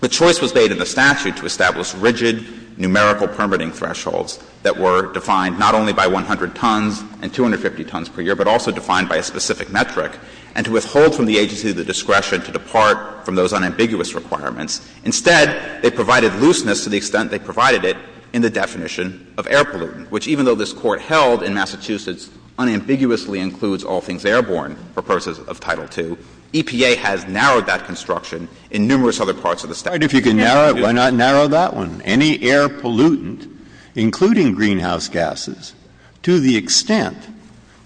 The choice was made in the statute to establish rigid numerical permitting thresholds that were defined not only by 100 tons and 250 tons per year, but also defined by a specific metric, and to withhold from the agency the discretion to depart from those unambiguous requirements. Instead, they provided looseness to the extent they provided it in the definition of air pollutant, which, even though this Court held in Massachusetts unambiguously includes all things airborne purposes of Title II, EPA has narrowed that construction in numerous other parts of the statute. If you can narrow it, why not narrow that one? Any air pollutant, including greenhouse gases, to the extent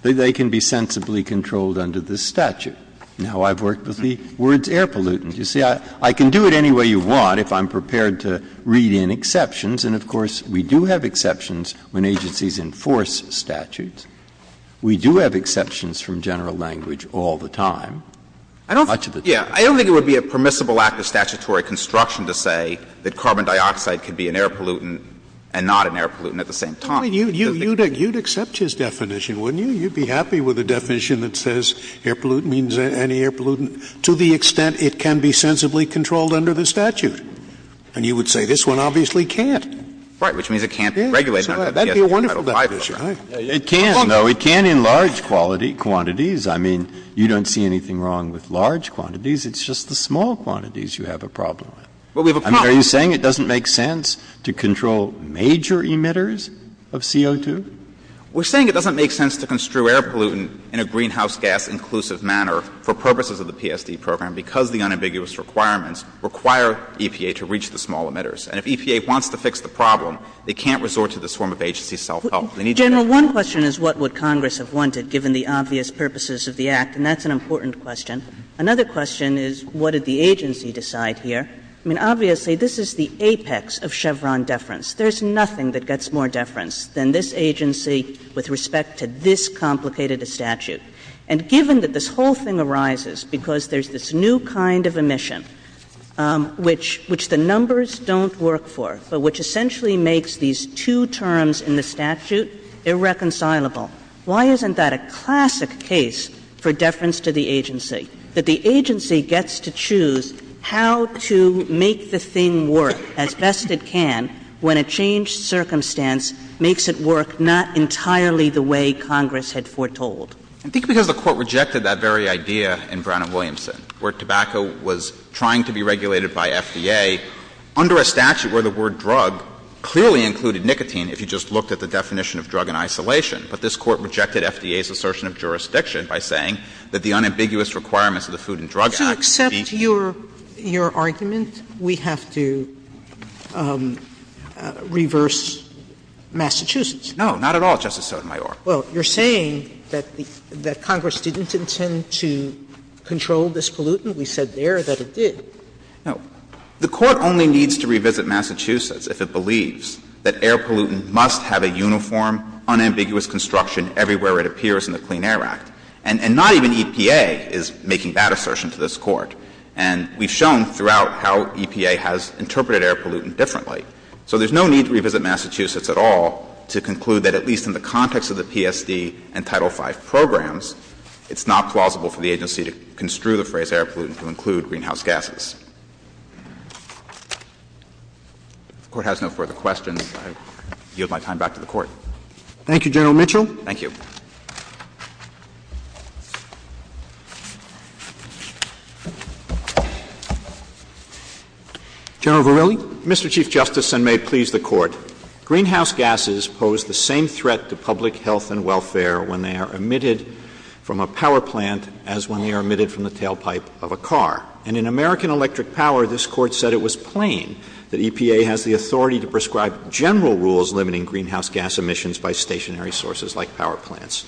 that they can be sensibly controlled under this statute. You know, I've worked with the words air pollutant. You see, I can do it any way you want if I'm prepared to read in exceptions, and of course, we do have exceptions when agencies enforce statutes. We do have exceptions from general language all the time. I don't think it would be a permissible act of statutory construction to say that carbon dioxide can be an air pollutant and not an air pollutant at the same time. You'd accept his definition, wouldn't you? You'd be happy with a definition that says air pollutant means any air pollutant to the extent it can be sensibly controlled under the statute. And you would say this one obviously can't. Right, which means it can't regulate it. It can, no, it can in large quantities. I mean, you don't see anything wrong with large quantities. It's just the small quantities you have a problem with. Are you saying it doesn't make sense to control major emitters of CO2? We're saying it doesn't make sense to construe air pollutant in a greenhouse gas inclusive manner for purposes of the PSD program because the unambiguous requirements require EPA to reach the small emitters. And if EPA wants to fix the problem, they can't resort to this form of agency self-help. General, one question is what would Congress have wanted given the obvious purposes of the Act, and that's an important question. Another question is what did the agency decide here? I mean, obviously this is the apex of Chevron deference. There's nothing that gets more deference than this agency with respect to this complicated statute. And given that this whole thing arises because there's this new kind of emission, which the numbers don't work for, which essentially makes these two terms in the statute irreconcilable, why isn't that a classic case for deference to the agency, that the agency gets to choose how to make the thing work as best it can when a changed circumstance makes it work not entirely the way Congress had foretold? I think because the Court rejected that very idea in Brown v. Williamson, where tobacco was trying to be regulated by FDA under a statute where the word drug clearly included nicotine if you just looked at the definition of drug in isolation. But this Court rejected FDA's assertion of jurisdiction by saying that the unambiguous requirements of the Food and Drug Act To accept your argument, we have to reverse Massachusetts. No, not at all, Justice Sotomayor. Well, you're saying that Congress didn't intend to control this pollutant. We said there that it did. No. The Court only needs to revisit Massachusetts if it believes that air pollutant must have a uniform, unambiguous construction everywhere it appears in the Clean Air Act. And not even EPA is making that assertion to this Court. And we've shown throughout how EPA has interpreted air pollutant differently. So there's no need to revisit Massachusetts at all to conclude that at least in the context of the PSD and Title V programs, it's not plausible for the agency to construe the phrase air pollutant to include greenhouse gases. The Court has no further questions. I yield my time back to the Court. Thank you, General Mitchell. Thank you. General Verrilli. Mr. Chief Justice, and may it please the Court, greenhouse gases pose the same threat to public health and welfare when they are emitted from a power plant as when they are emitted from the tailpipe of a car. And in American Electric Power, this Court said it was plain that EPA has the authority to prescribe general rules limiting greenhouse gas emissions by stationary sources like power plants.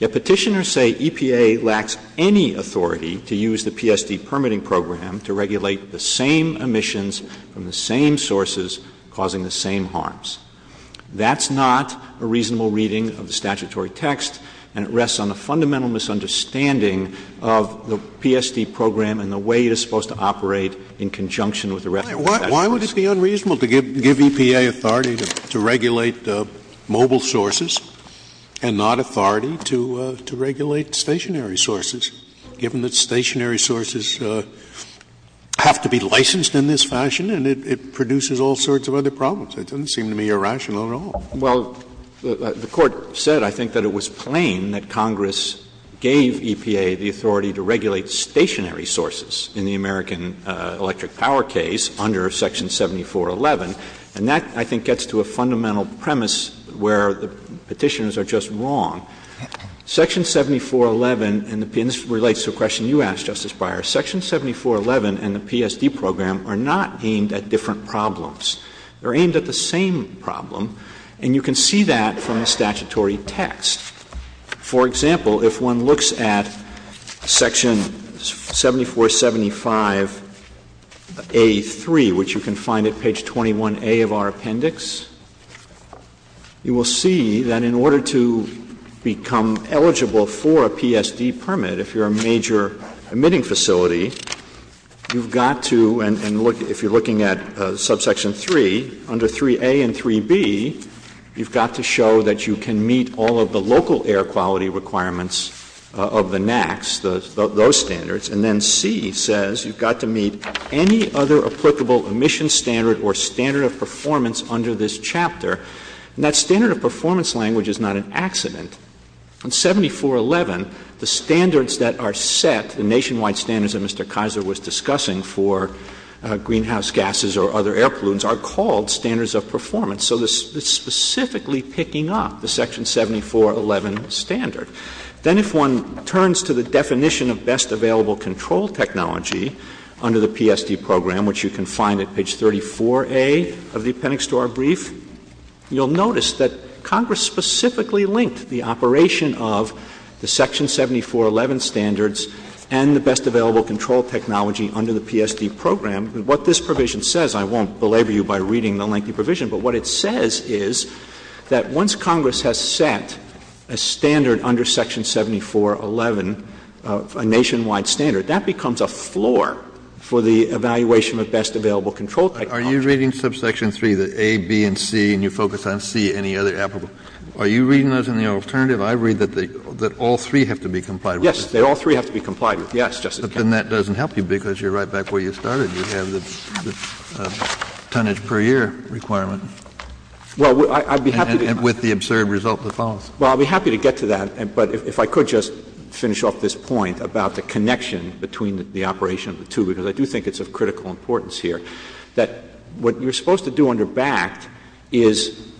Yet petitioners say EPA lacks any authority to use the PSD permitting program to regulate the same emissions from the same sources causing the same harms. That's not a reasonable reading of the statutory text, and it is not a reasonable reading of the PSD program and the way it is supposed to operate in conjunction with the rest of the statute. Why would it be unreasonable to give EPA authority to regulate mobile sources and not authority to regulate stationary sources, given that stationary sources have to be licensed in this fashion, and it produces all sorts of other problems? It doesn't seem to be irrational at all. Well, the Court said, I think, that it was plain that Congress gave EPA the authority to regulate stationary sources in the American Electric Power case under Section 7411, and that, I think, gets to a fundamental premise where the petitioners are just wrong. Section 7411 and this relates to a question you asked, Justice Breyer, Section 7411 and the PSD program are not deemed at different problems. They're aimed at the same problem, and you can see that from the statutory text. For example, if one looks at Section 7475 A3, which you can find at page 21A of our appendix, you will see that in order to become eligible for a PSD permit, if you're a major emitting facility, you've got to, and if you're looking at Subsection 3, under 3A and 3B, you've got to show that you can meet all of the local air quality requirements of the NAAQS, those standards, and then C says you've got to meet any other applicable emission standard or standard of performance under this chapter, and that standard of performance language is not an accident. In 7411, the standards that are set, the nationwide standards that Mr. Kaiser was discussing for greenhouse gases or other air pollutants are called standards of performance, so this is specifically picking up the Section 7411 standard. Then if one turns to the definition of best available control technology under the PSD program, which you can find at page 34A of the appendix to our brief, you'll notice that Congress specifically linked the operation of the Section 7411 standards and the best available control technology under the PSD program. What this provision says, I won't belabor you by reading the lengthy provision, but what it says is that once Congress has set a standard under Section 7411, a nationwide standard, that becomes a floor for the evaluation of best available control technology. Are you reading Subsection 3, the A, B, and C, and you focus on C, any other applicable? Are you reading those in the alternative? I read that all three have to be complied with. Yes, all three have to be complied with. Then that doesn't help you because you're right back where you started. You have the tonnage per year requirement. With the absurd result that follows. Well, I'd be happy to get to that, but if I could just finish off this point about the connection between the operation of the two, because I do think it's of critical importance here, that what you're supposed to do under BACT is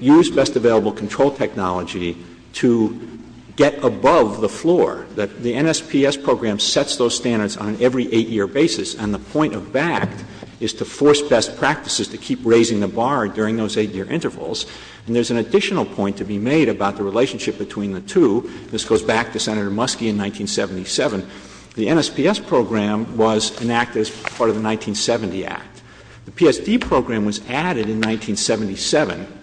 use best available control technology to get above the floor. The NSPS program sets those standards on every eight-year basis and the point of BACT is to force best practices to keep raising the bar during those eight-year intervals. And there's an additional point to be made about the relationship between the two. This goes back to Senator Muskie in 1977. The NSPS program was enacted as part of the 1970 Act. The PSD program was added in 1977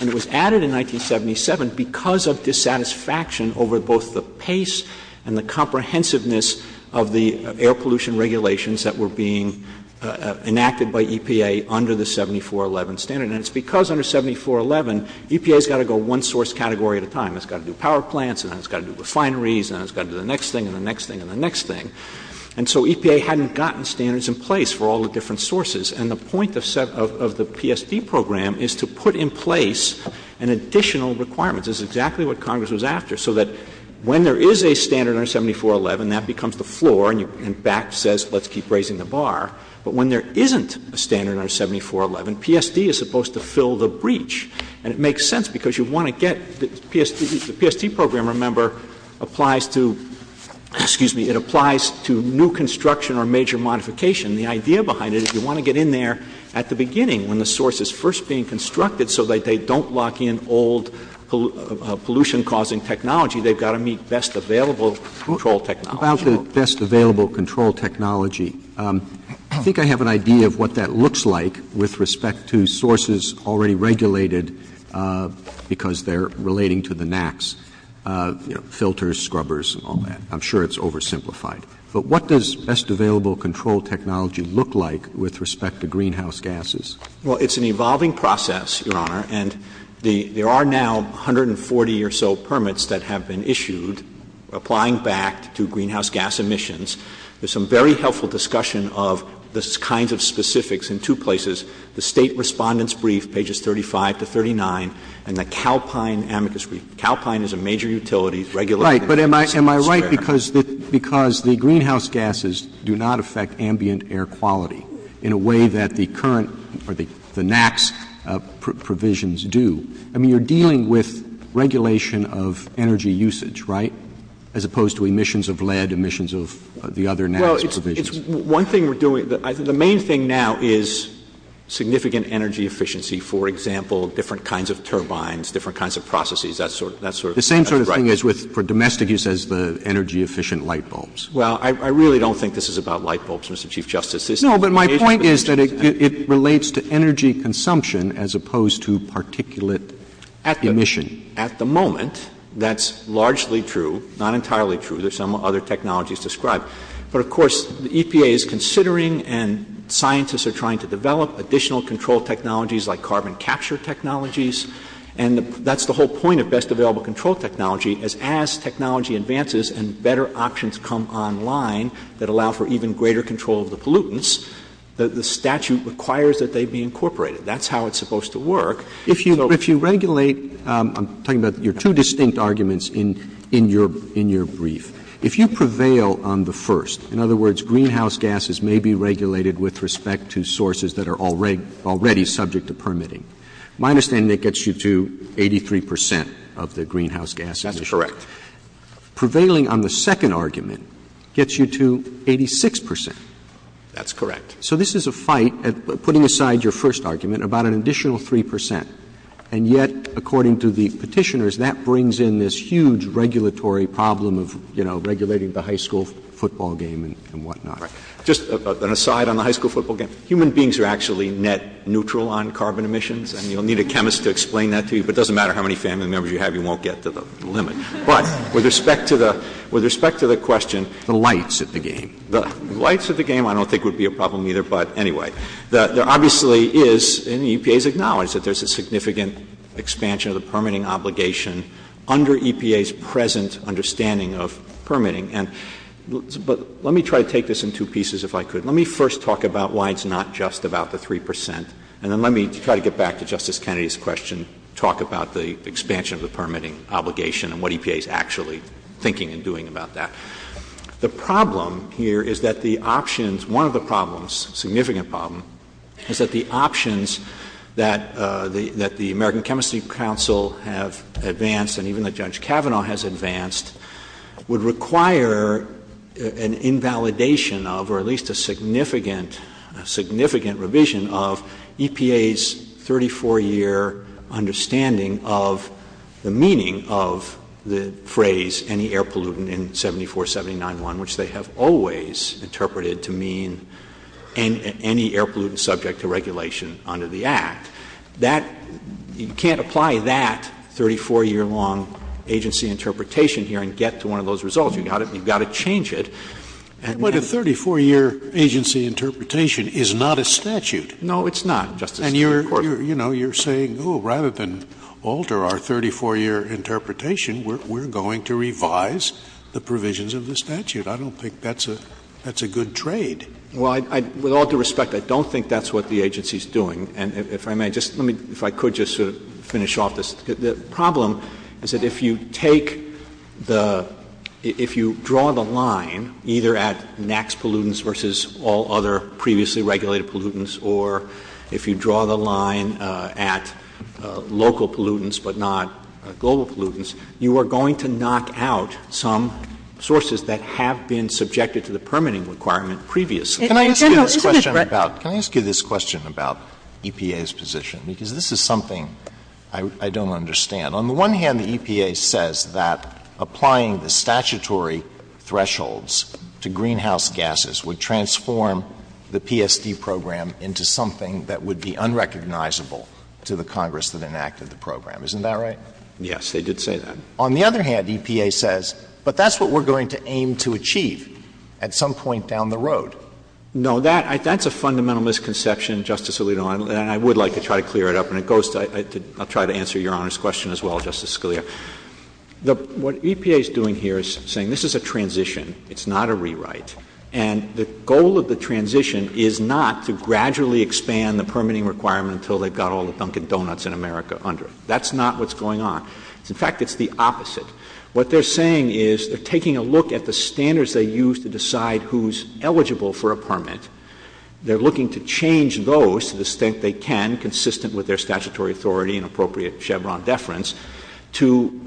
and it was added in 1977. And it was a satisfaction over both the pace and the comprehensiveness of the air pollution regulations that were being enacted by EPA under the 7411 standard. And it's because under 7411 EPA's got to go one source category at a time. It's got to do power plants and then it's got to do refineries and then it's got to do the next thing and the next thing and the next thing. And so EPA hadn't gotten standards in place for all the different sources. And the point of the PSD program is to make it so that when there is a standard under 7411, that becomes the floor and BAC says let's keep raising the bar. But when there isn't a standard under 7411, PSD is supposed to fill the breach. And it makes sense because you want to get the PSD program, remember, applies to new construction or major modification. The idea behind it is you want to get in there at the beginning when the source is first being constructed so that they don't lock in old pollution causing technology. They've got to meet best available control technology. About the best available control technology. I think I have an idea of what that looks like with respect to sources already regulated because they're relating to the NACs. Filters, scrubbers, all that. I'm sure it's oversimplified. But what does best available control technology look like with respect to greenhouse gases? Well, it's an evolving process, Your Honor, and there are now 140 or so permits that have been issued applying back to greenhouse gas emissions. There's some very helpful discussion of this kind of specifics in two places. The State Respondents Brief, pages 35 to 39, and the Calpine Amicus Brief. Calpine is a major utility. Right, but am I right because the greenhouse gases do not affect ambient air quality in a way that the current or the NACs provisions do? I mean, you're dealing with regulation of energy usage, right? As opposed to emissions of lead, emissions of the other NACs provisions. The main thing now is significant energy efficiency. For example, different kinds of turbines, different kinds of processes. The same sort of thing is for domestic use as the energy efficient light bulbs. Well, I really don't think this is about light bulbs, Mr. Chief Justice. No, but my point is that it relates to energy consumption as opposed to particulate emissions. At the moment, that's largely true. Not entirely true. There's some other technologies described. But of course, the EPA is considering and scientists are trying to develop additional control technologies like carbon capture technologies. And that's the whole point of best available control technology. As technology advances and better options come online that allow for even greater control of the pollutants, the statute requires that they be incorporated. That's how it's supposed to work. If you regulate I'm talking about your two distinct arguments in your brief. If you prevail on the first, in other words, greenhouse gases may be regulated with respect to sources that are already subject to permitting. My understanding is it gets you to 83% of the greenhouse gases. That's correct. Prevailing on the second argument gets you to 86%. That's correct. So this is a fight, putting aside your first argument, about an additional 3%. And yet, according to the petitioners, that brings in this huge regulatory problem of regulating the high school football game and whatnot. Just an aside on the high school football game. Human beings are actually net neutral on carbon emissions. And you'll need a chemist to explain that to you. But it doesn't matter how many family members you have, you won't get to the limit. But, with respect to the question, the lights at the game. The lights at the game, I don't think would be a problem either. But anyway, there obviously is, and the EPA has acknowledged, that there's a significant expansion of the permitting obligation under EPA's present understanding of permitting. But let me try to take this in two pieces, if I could. Let me first talk about why it's not just about the 3%. And then let me try to get back to Justice Kennedy's question, talk about the EPA's actually thinking and doing about that. The problem here is that the options, one of the problems, significant problem, is that the options that the American Chemistry Council have advanced and even that Judge Kavanaugh has advanced would require an invalidation of or at least a significant revision of EPA's 34-year understanding of the meaning of the phrase any air pollutant in 74791, which they have always interpreted to mean any air pollutant subject to regulation under the Act. You can't apply that 34-year long agency interpretation here and get to one of those results. You've got to change it. But a 34-year agency interpretation is not a statute. No, it's not. And you're saying, oh, rather than alter our 34-year interpretation, we're going to revise the provisions of the statute. I don't think that's a good trade. Well, with all due respect, I don't think that's what the agency's doing. And if I could just finish off this. The problem is that if you draw the line either at NAAQS pollutants versus all other previously regulated pollutants or if you draw the line at local pollutants but not global pollutants, you are going to knock out some sources that have been subjected to the permitting requirement previously. Can I ask you this question about EPA's position? Because this is something I don't understand. On the one hand, the EPA says that applying the statutory thresholds to greenhouse gases would transform the PSD program into something that would be unrecognizable to the Congress that enacted the program. Isn't that right? Yes, they did say that. On the other hand, EPA says, but that's what we're going to aim to achieve at some point down the road. No, that's a fundamental misconception, Justice Alito, and I would like to try to clear it up. And I'll try to answer Your Honor's question as well, Justice Scalia. What EPA's doing here is saying this is a transition. It's not a rewrite. And the goal of the transition is not to gradually expand the permitting requirement until they've got all the Dunkin' Donuts in America under it. That's not what's going on. In fact, it's the opposite. What they're saying is they're taking a look at the standards they use to decide who's eligible for a permit. They're looking to change those to the extent they can, consistent with their statutory authority and appropriate Chevron deference, to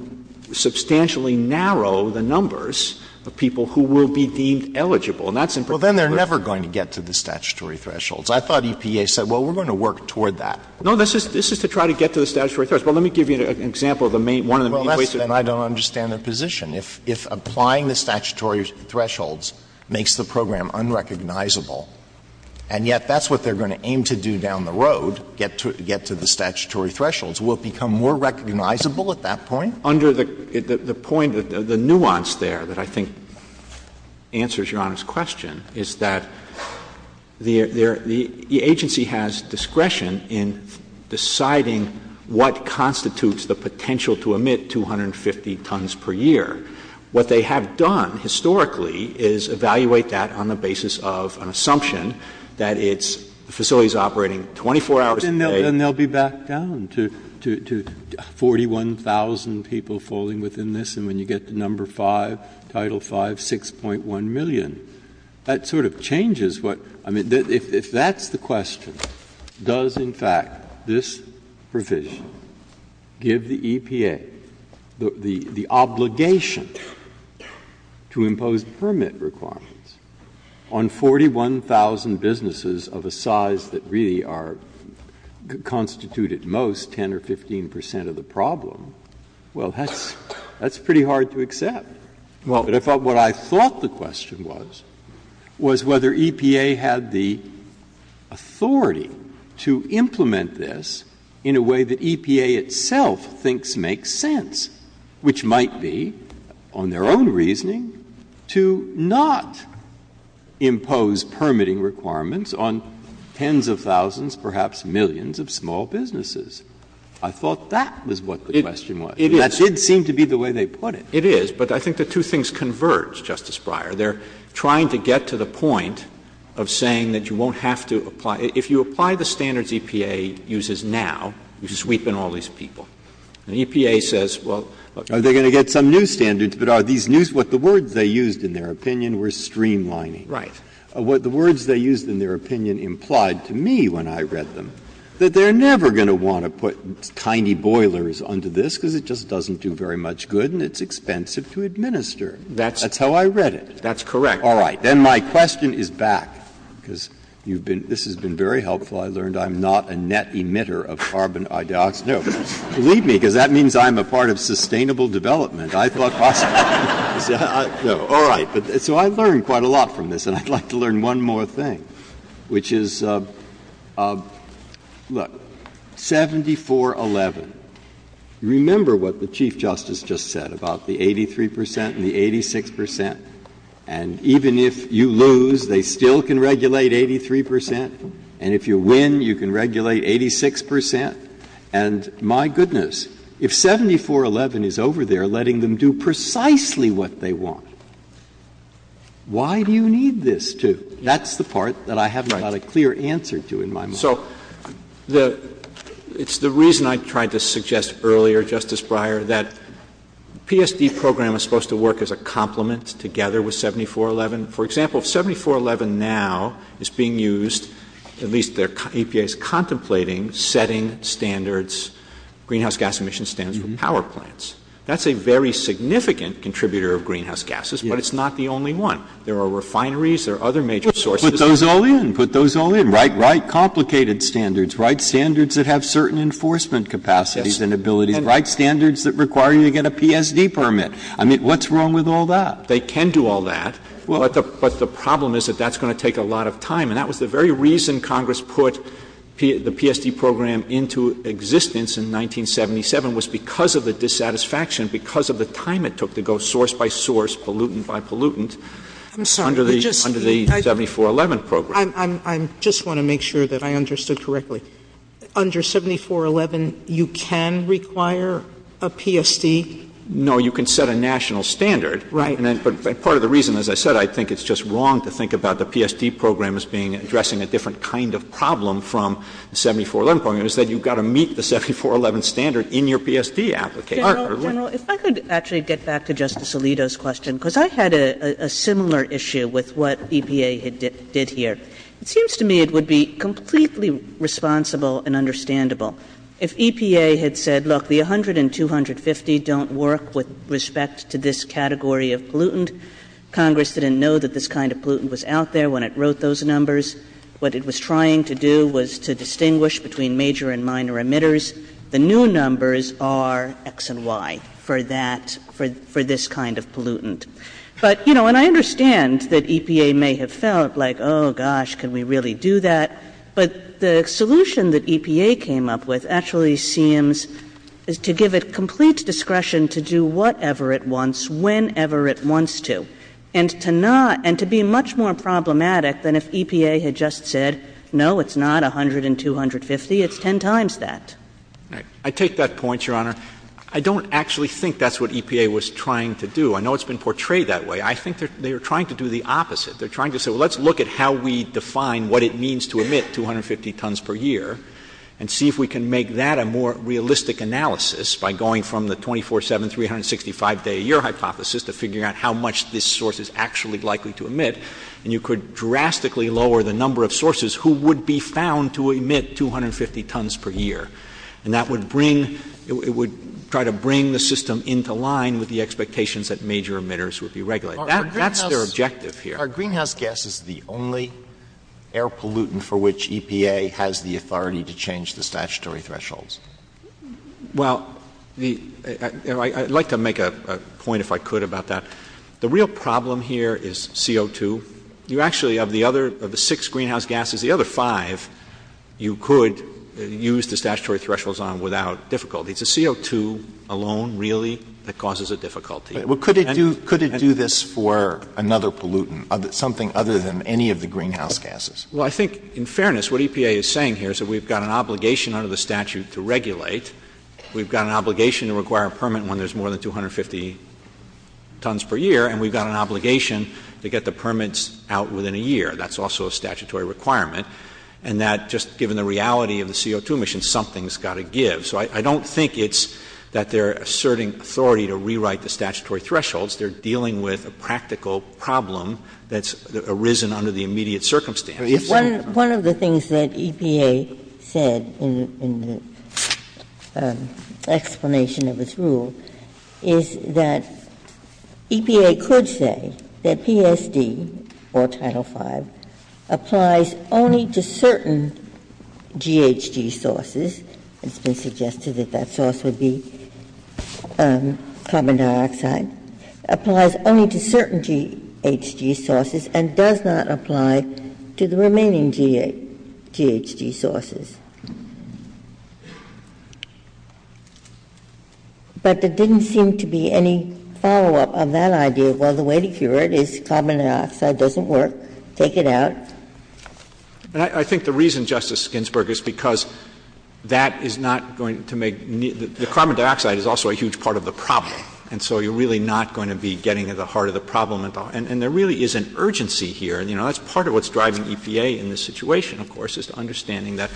substantially narrow the numbers of people who will be eligible. Well, then they're never going to get to the statutory thresholds. I thought EPA said, well, we're going to work toward that. No, this is to try to get to the statutory thresholds. Well, let me give you an example of one of the main ways that... Well, that's that I don't understand their position. If applying the statutory thresholds makes the program unrecognizable, and yet that's what they're going to aim to do down the road, get to the statutory thresholds, will it become more recognizable at that point? Under the nuance there that I think answers your honest question is that the agency has discretion in deciding what constitutes the potential to emit 250 tons per year. What they have done historically is evaluate that on the basis of an assumption that it's facilities operating 24 hours a day... And then they'll be back down to 41,000 people falling within this, and when you get to number 5, Title 5, 6.1 million. That sort of changes what... I mean, if that's the question, does in fact this provision give the EPA the obligation to impose permit requirements on 41,000 businesses of a size that really are constitute at most 10 or 15 percent of the problem? Well, that's pretty hard to accept. But I thought what I thought the question was was whether EPA had the authority to implement this in a way that EPA itself thinks makes sense, which might be, on their own reasoning, to not impose permitting requirements on tens of thousands, perhaps millions of small businesses. I thought that was what the question was. It did seem to be the way they put it. It is, but I think the two things converge, Justice Breyer. They're trying to get to the point of saying that you won't have to apply... If you apply the standards EPA uses now, you sweep in all these people. And EPA says, well... Are they going to get some new standards that are these new... What the words they used in their opinion were streamlining. Right. What the words they used in their opinion implied to me when I read them, that they're never going to want to put tiny boilers onto this because it just doesn't do very much good and it's expensive to administer. That's how I read it. That's correct. All right. Then my question is back because this has been very helpful. I learned I'm not a net emitter of carbon dioxide. Believe me, because that means I'm a part of sustainable development. I thought... All right. So I've learned quite a lot from this. And I'd like to learn one more thing, which is... Look. 74-11. Remember what the Chief Justice just said about the 83% and the 86%. And even if you lose, they still can regulate 83%. And if you win, you can regulate 86%. And my goodness, if 74-11 is over there letting them do precisely what they want, why do you need this to? That's the part that I haven't got a clear answer to in my mind. So it's the reason I tried to suggest earlier, Justice Breyer, that the PSD program is supposed to work as a complement together with 74-11. For example, 74-11 now is being used, at least the EPA is contemplating, setting standards, greenhouse gas emission standards for power plants. That's a very significant contributor of greenhouse gases, but it's not the only one. There are refineries, there are other major sources... Put those all in. Write complicated standards. Write standards that have certain enforcement capacities and abilities. Write standards that require you to get a PSD permit. I mean, what's wrong with all that? They can do all that, but the problem is that that's going to take a lot of time. And that was the very reason Congress put the PSD program into existence in 1977, was because of the dissatisfaction, because of the time it took to go source-by-source, pollutant-by-pollutant, under the 74-11 program. I just want to make sure that I understood correctly. Under 74-11, you can require a PSD? No, you can set a national standard. Right. And part of the reason, as I said, I think it's just wrong to think about the PSD program as being, addressing a different kind of problem from the 74-11 program, is that you've got to meet the 74-11 standard in your PSD application. If I could actually get back to Justice Alito's question, because I've had a similar issue with what EPA did here. It seems to me it would be completely responsible and understandable if EPA had said, look, the 100 and 250 don't work with respect to this category of pollutant. Congress didn't know that this kind of pollutant was out there when it wrote those numbers. What it was trying to do was to distinguish between major and minor emitters. The new numbers are X and Y for this kind of pollutant. I understand that EPA may have felt like, oh, gosh, can we really do that? The solution that EPA came up with actually seems to give it complete discretion to do whatever it wants, whenever it wants to, and to be much more problematic than if EPA had just said, no, it's not 100 and 250, it's 10 times that. I take that point, Your Honor. I don't actually think that's what EPA was trying to do. I know it's been portrayed that way. I think they were trying to do the opposite. They're trying to say, well, let's look at how we define what it means to emit 250 tons per year and see if we can make that a more realistic analysis by going from the 24-7, 365-day-a-year hypothesis to figuring out how much this source is actually likely to emit, and you could drastically lower the number of sources who would be found to emit 250 tons per year. And that would bring, it would try to bring the system into line with the expectations that major emitters would be regulated. That's their objective here. Are greenhouse gases the only air pollutant for which EPA has the authority to change the statutory thresholds? Well, I'd like to make a point, if I could, about that. The real problem here is CO2. You actually, of the six greenhouse gases, the other five, you could use the statutory thresholds on without difficulty. It's the CO2 alone, really, that causes a difficulty. Could it do this for another pollutant, something other than any of the greenhouse gases? Well, I think in fairness, what EPA is saying here is that we've got an obligation under the statute to regulate. We've got an obligation to require a permit when there's more than 250 tons per year, and we've got an obligation to get the permits out within a year. That's also a statutory requirement. And that, just given the reality of the CO2 emissions, something's got to give. So I don't think it's that they're asserting authority to rewrite the statutory thresholds. They're dealing with a practical problem that's arisen under the immediate circumstances. One of the things that EPA said in the explanation of its rule is that EPA could say that PSD, or Title V, applies only to certain GHG sources. It's been suggested that that source would be carbon dioxide. It applies only to certain GHG sources and does not apply to the remaining GHG sources. But there didn't seem to be any follow-up on that idea. Well, the way to cure it is carbon dioxide doesn't work. Take it out. I think the reason, Justice Ginsburg, is because that is not going to make... The carbon dioxide is also a huge part of the problem, and so you're really not going to be getting to the heart of the problem at all. And there really is an urgency here, and that's part of what's driving EPA in this situation, of course, is understanding that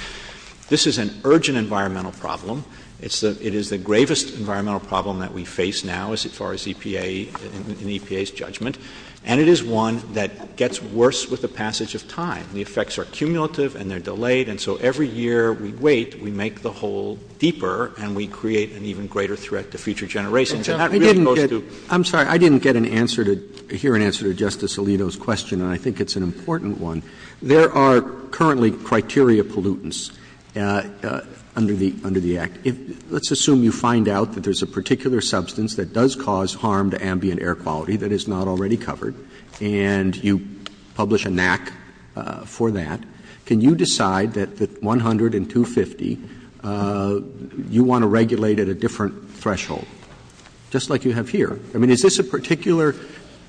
this is an urgent environmental problem. It is the gravest environmental problem that we face now as far as EPA and EPA's judgment, and it is one that gets worse with the passage of time. The effects are cumulative and they're delayed, and so every year we wait, we make the hole deeper and we create an even greater threat to future generations. I'm sorry, I didn't get an answer to... hear an answer to Justice Alito's question, and I think it's an important one. There are currently criteria pollutants under the Act. Let's assume you find out that there's a particular substance that does cause harm to ambient air quality that is not already covered, and you publish a NAC for that. Can you decide that 100 and 250, you want to regulate at a different threshold, just like you have here? I mean, is this a particular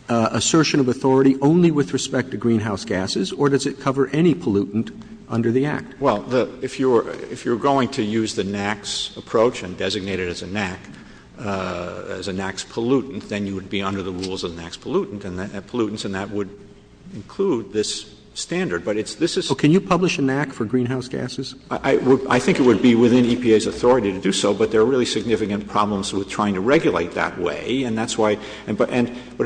assertion of authority only with respect to greenhouse gases, or does it cover any pollutant under the Act? Well, if you're going to use the NAC's approach and designate it as a NAC, as a NAC's pollutant, then you would be under the rules of NAC's pollutants and that would include this standard, but this is... Well, can you publish a NAC for greenhouse gases? I think it would be within EPA's authority to do so, but there are really significant problems with trying to regulate that way, and that's why... But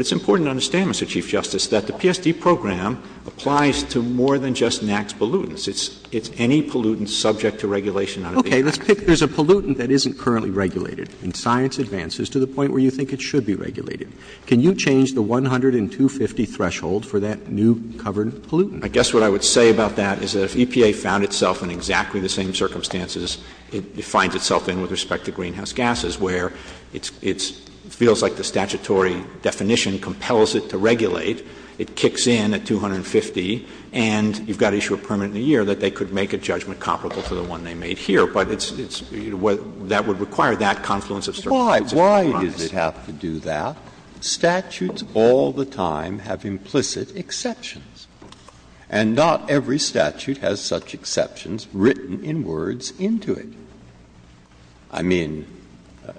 it's important to understand, Mr. Chief Justice, that the PSD program applies to more than just NAC's pollutants. It's any pollutant subject to regulation under the Act. Okay, let's pick... There's a pollutant that isn't currently regulated, and science advances to the point where you think it should be regulated. Can you change the 100 and 250 threshold for that new covered pollutant? I guess what I would say about that is that if EPA found itself in exactly the same circumstances it finds itself in with respect to greenhouse gases, where it feels like the statutory definition compels it to regulate, it kicks in at 250, and you've got issue of permanent year that they could make a judgment comparable to the one they made here, but that would require that confluence of circumstances. Why? Why does it have to do that? Statutes all the time have implicit exceptions, and not every statute has such exceptions written in words into it. I mean,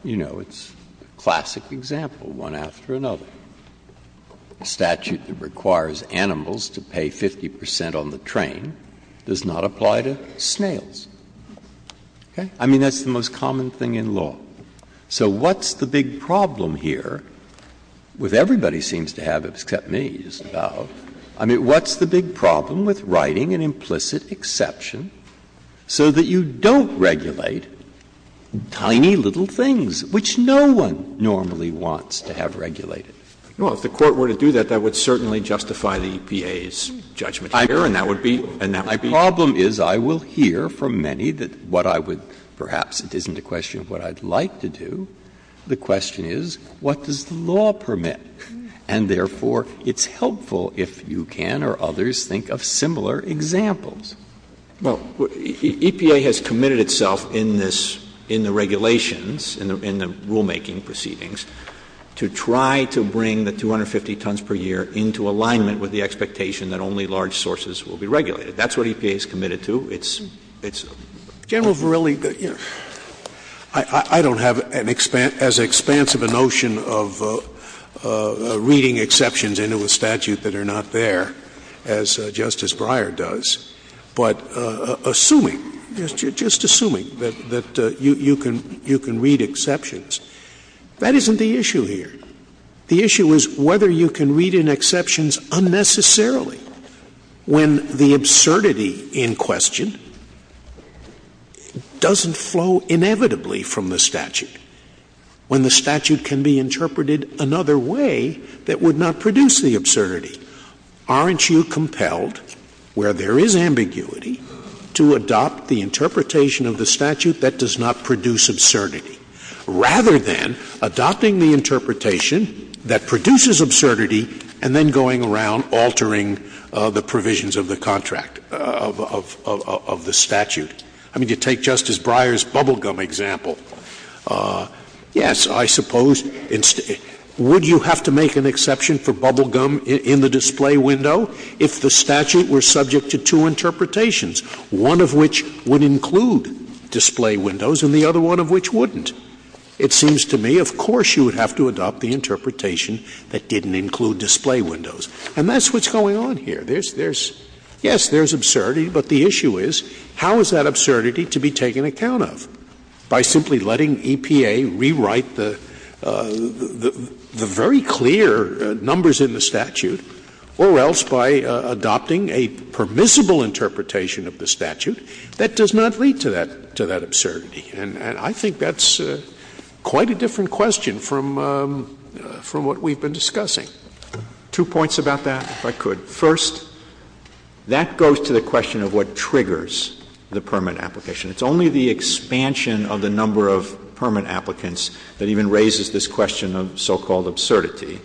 you know, it's a classic example, one after another. A statute that requires animals to pay 50% on the train does not apply to snails. Okay? I mean, that's the most common thing in law. So what's the big problem here with everybody seems to have, except me, Isabelle, I mean, what's the big problem with writing an implicit exception so that you don't regulate tiny little things, which no one normally wants to have regulated? Well, if the Court were to do that, that would certainly justify the EPA's judgment here, and that would be My problem is I will hear from many that what I would, perhaps it isn't a question of what I'd like to do, the question is, what does the law permit? And therefore, it's helpful if you can or others think of similar examples. Well, EPA has committed itself in this, in the regulations, in the rulemaking proceedings, to try to bring the 250 tons per year into alignment with the expectation that only large sources will be regulated. That's what EPA is committed to. It's General Verrilli, I don't have as expansive a notion of reading exceptions into a statute that are not there as Justice Breyer does, but assuming, just assuming that you can read exceptions. That isn't the issue here. The issue is whether you can read in exceptions unnecessarily, when the absurdity in question doesn't flow inevitably from the statute, when the statute can be interpreted another way that would not produce the absurdity. Aren't you compelled, where there is ambiguity, to adopt the interpretation of the statute that does not produce absurdity, rather than adopting the interpretation that produces absurdity, and then going around altering the provisions of the contract, of the statute? I mean, you take Justice Breyer's bubblegum example. Yes, I suppose, would you have to make an exception for bubblegum in the display window if the statute were subject to two provisions that would include display windows, and the other one of which wouldn't? It seems to me, of course, you would have to adopt the interpretation that didn't include display windows. And that's what's going on here. Yes, there's absurdity, but the issue is, how is that absurdity to be taken account of? By simply letting EPA rewrite the very clear numbers in the statute, or else by adopting a permissible interpretation of the statute, that does not lead to that absurdity. And I think that's quite a different question from what we've been discussing. Two points about that, if I could. First, that goes to the question of what triggers the permit application. It's only the expansion of the number of permit applicants that even raises this question of so-called absurdity.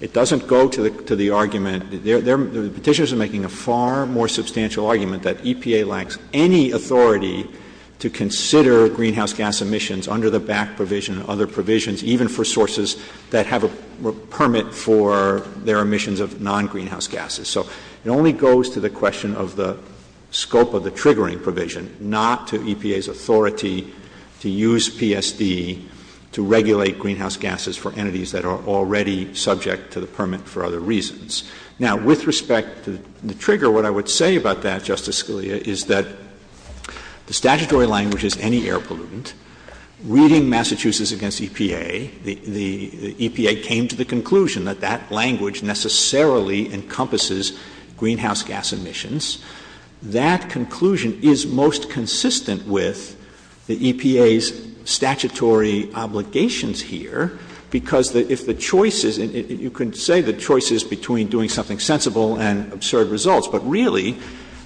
It doesn't go to the argument that the petitioners are making a far more substantial argument that EPA lacks any authority to consider greenhouse gas emissions under the BAC provision and other provisions, even for sources that have a permit for their emissions of non-greenhouse gases. So it only goes to the question of the scope of the triggering provision, not to EPA's authority to use PSB to regulate greenhouse gases for entities that are already subject to the permit for other reasons. Now, with respect to the trigger, what I would say about that, Justice Scalia, is that the statutory language is any air pollutant. Reading Massachusetts against EPA, the EPA came to the conclusion that that language necessarily encompasses greenhouse gas emissions. That conclusion is most consistent with the EPA's statutory obligations here because if the choices — you can say the choices between doing something sensible and absurd results, but really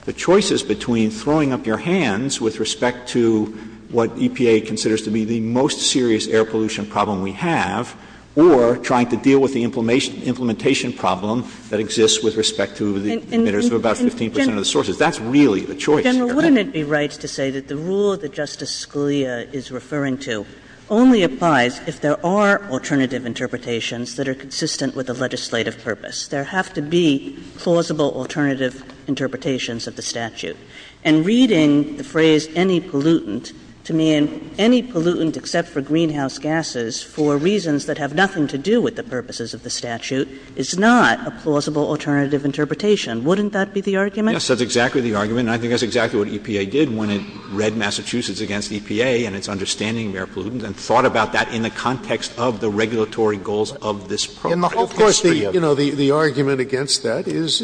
the choices between throwing up your hands with respect to what EPA considers to be the most serious air pollution problem we have, or trying to deal with the implementation problem that exists with respect to the emitters of about 15 percent of the sources. That's really the choice. General, wouldn't it be right to say that the rule that Justice Scalia is referring to only applies if there are alternative interpretations that are consistent with a legislative purpose? There have to be plausible alternative interpretations of the statute. And reading the phrase any pollutant to mean any pollutant except for greenhouse gases for reasons that have nothing to do with the purposes of the statute is not a plausible alternative interpretation. Wouldn't that be the argument? Yes, that's exactly the argument, and I think that's exactly what EPA did when it read Massachusetts against EPA and its understanding of air pollutants and thought about that in the context of the regulatory goals of this program. Of course, you know, the argument against that is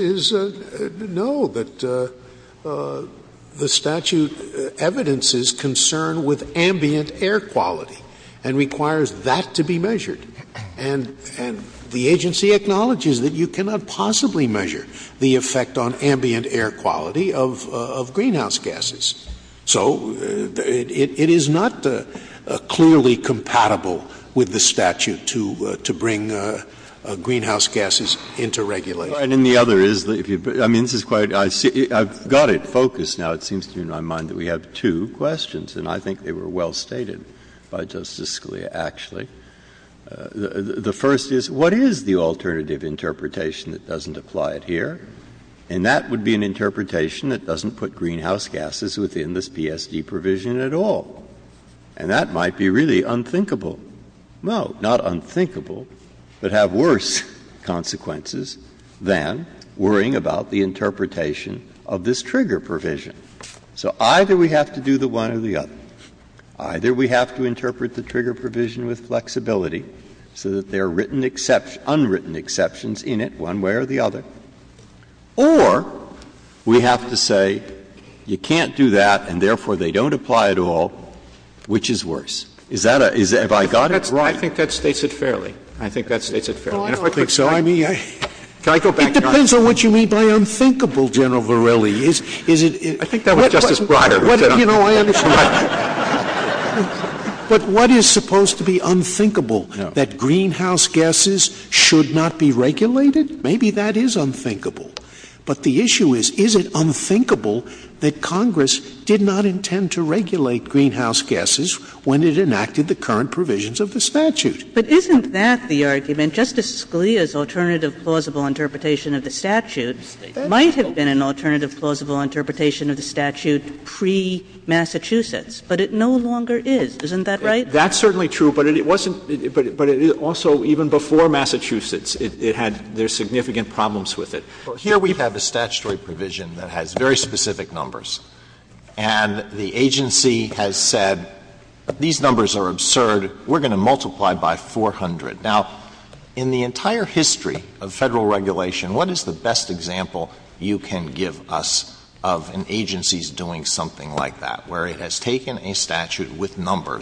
no, that the statute evidences concern with ambient air quality and requires that to be measured. And the agency acknowledges that you cannot possibly measure the effect on ambient air quality of greenhouse gases. So it is not clearly compatible with the statute to bring greenhouse gases into regulation. And then the other is, I mean, this is quite I've got it focused now. It seems to me in my mind that we have two questions, and I think they were well stated by Justice Scalia, actually. The first is, what is the alternative interpretation that doesn't apply it here? And that would be an interpretation that doesn't put greenhouse gases within this PSD provision at all. And that might be really unthinkable. No, not unthinkable, but have worse consequences than worrying about the interpretation of this trigger provision. So either we have to do the one or the other. Either we have to interpret the trigger provision with flexibility so that there are unwritten exceptions in it one way or the other. Or we have to say, you can't do that and therefore they don't apply at all, which is worse. Have I got it wrong? I think that states it fairly. I think so. It depends on what you mean by unthinkable, General Verrilli. I think that was Justice Breyer. But what is supposed to be unthinkable, that greenhouse gases should not be regulated? Maybe that is unthinkable. But the issue is, is it unthinkable that Congress did not intend to regulate greenhouse gases when it enacted the current provisions of the statute? But isn't that the argument? Justice Scalia's alternative plausible interpretation of the statute might have been an alternative plausible interpretation of the statute pre-Massachusetts, but it no longer is. Isn't that right? That's certainly true, but it also, even before Massachusetts, there were significant problems with it. Here we have a statutory provision that has very specific numbers, and the agency has said, these numbers are absurd, we're going to multiply by 400. Now, in the entire history of federal regulation, what is the best example you can give us of an agency's doing something like that, where it has taken a statute with a number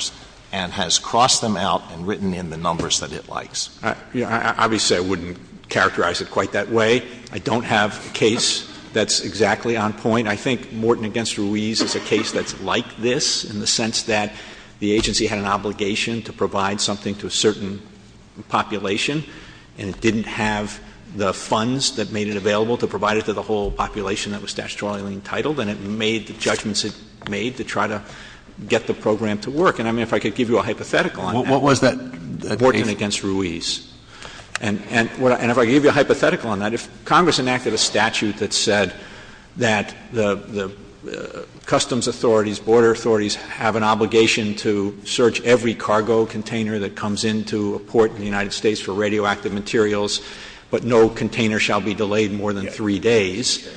that has come out and written in the numbers that it likes? Obviously, I wouldn't characterize it quite that way. I don't have a case that's exactly on point. I think Morton v. Ruiz is a case that's like this in the sense that the agency had an obligation to provide something to a certain population, and it didn't have the funds that made it available to provide it to the whole population that was statutorily entitled, and it made the judgments it made to try to get the program to work. And if I could give you a hypothetical on that, Morton v. Ruiz. And if I could give you a hypothetical on that, if Congress enacted a statute that said that the customs authorities, border authorities, have an obligation to search every cargo container that comes into a port in the United States for radioactive materials, but no container shall be delayed more than three days,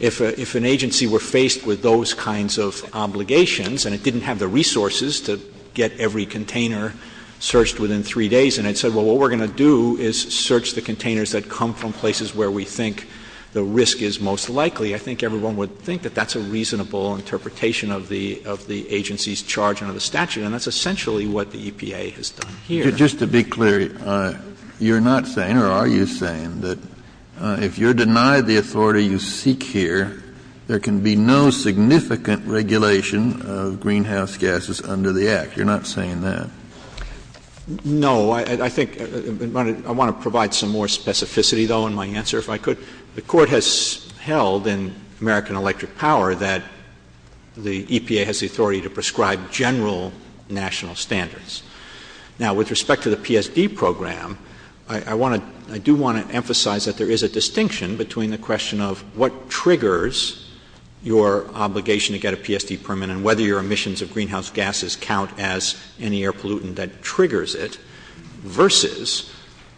if an agency were faced with those kinds of obligations, and it didn't have the resources to get every container searched within three days, and it said, well, what we're going to do is search the containers that come from places where we think the risk is most likely, I think everyone would think that that's a reasonable interpretation of the agency's charge under the statute, and that's essentially what the EPA has done here. Just to be clear, you're not saying, or are you saying that if you're denied the authority you seek here, there can be no significant regulation of greenhouse gases under the Act? You're not saying that? No, I think, I want to provide some more specificity, though, in my answer, if I could. The Court has held in American Electric Power that the EPA has the authority to prescribe general national standards. Now, with respect to the PSD program, I do want to emphasize that there is a distinction between the question of what triggers your obligation to get a PSD permit and whether your emissions of greenhouse gases count as any air pollutant that triggers it, versus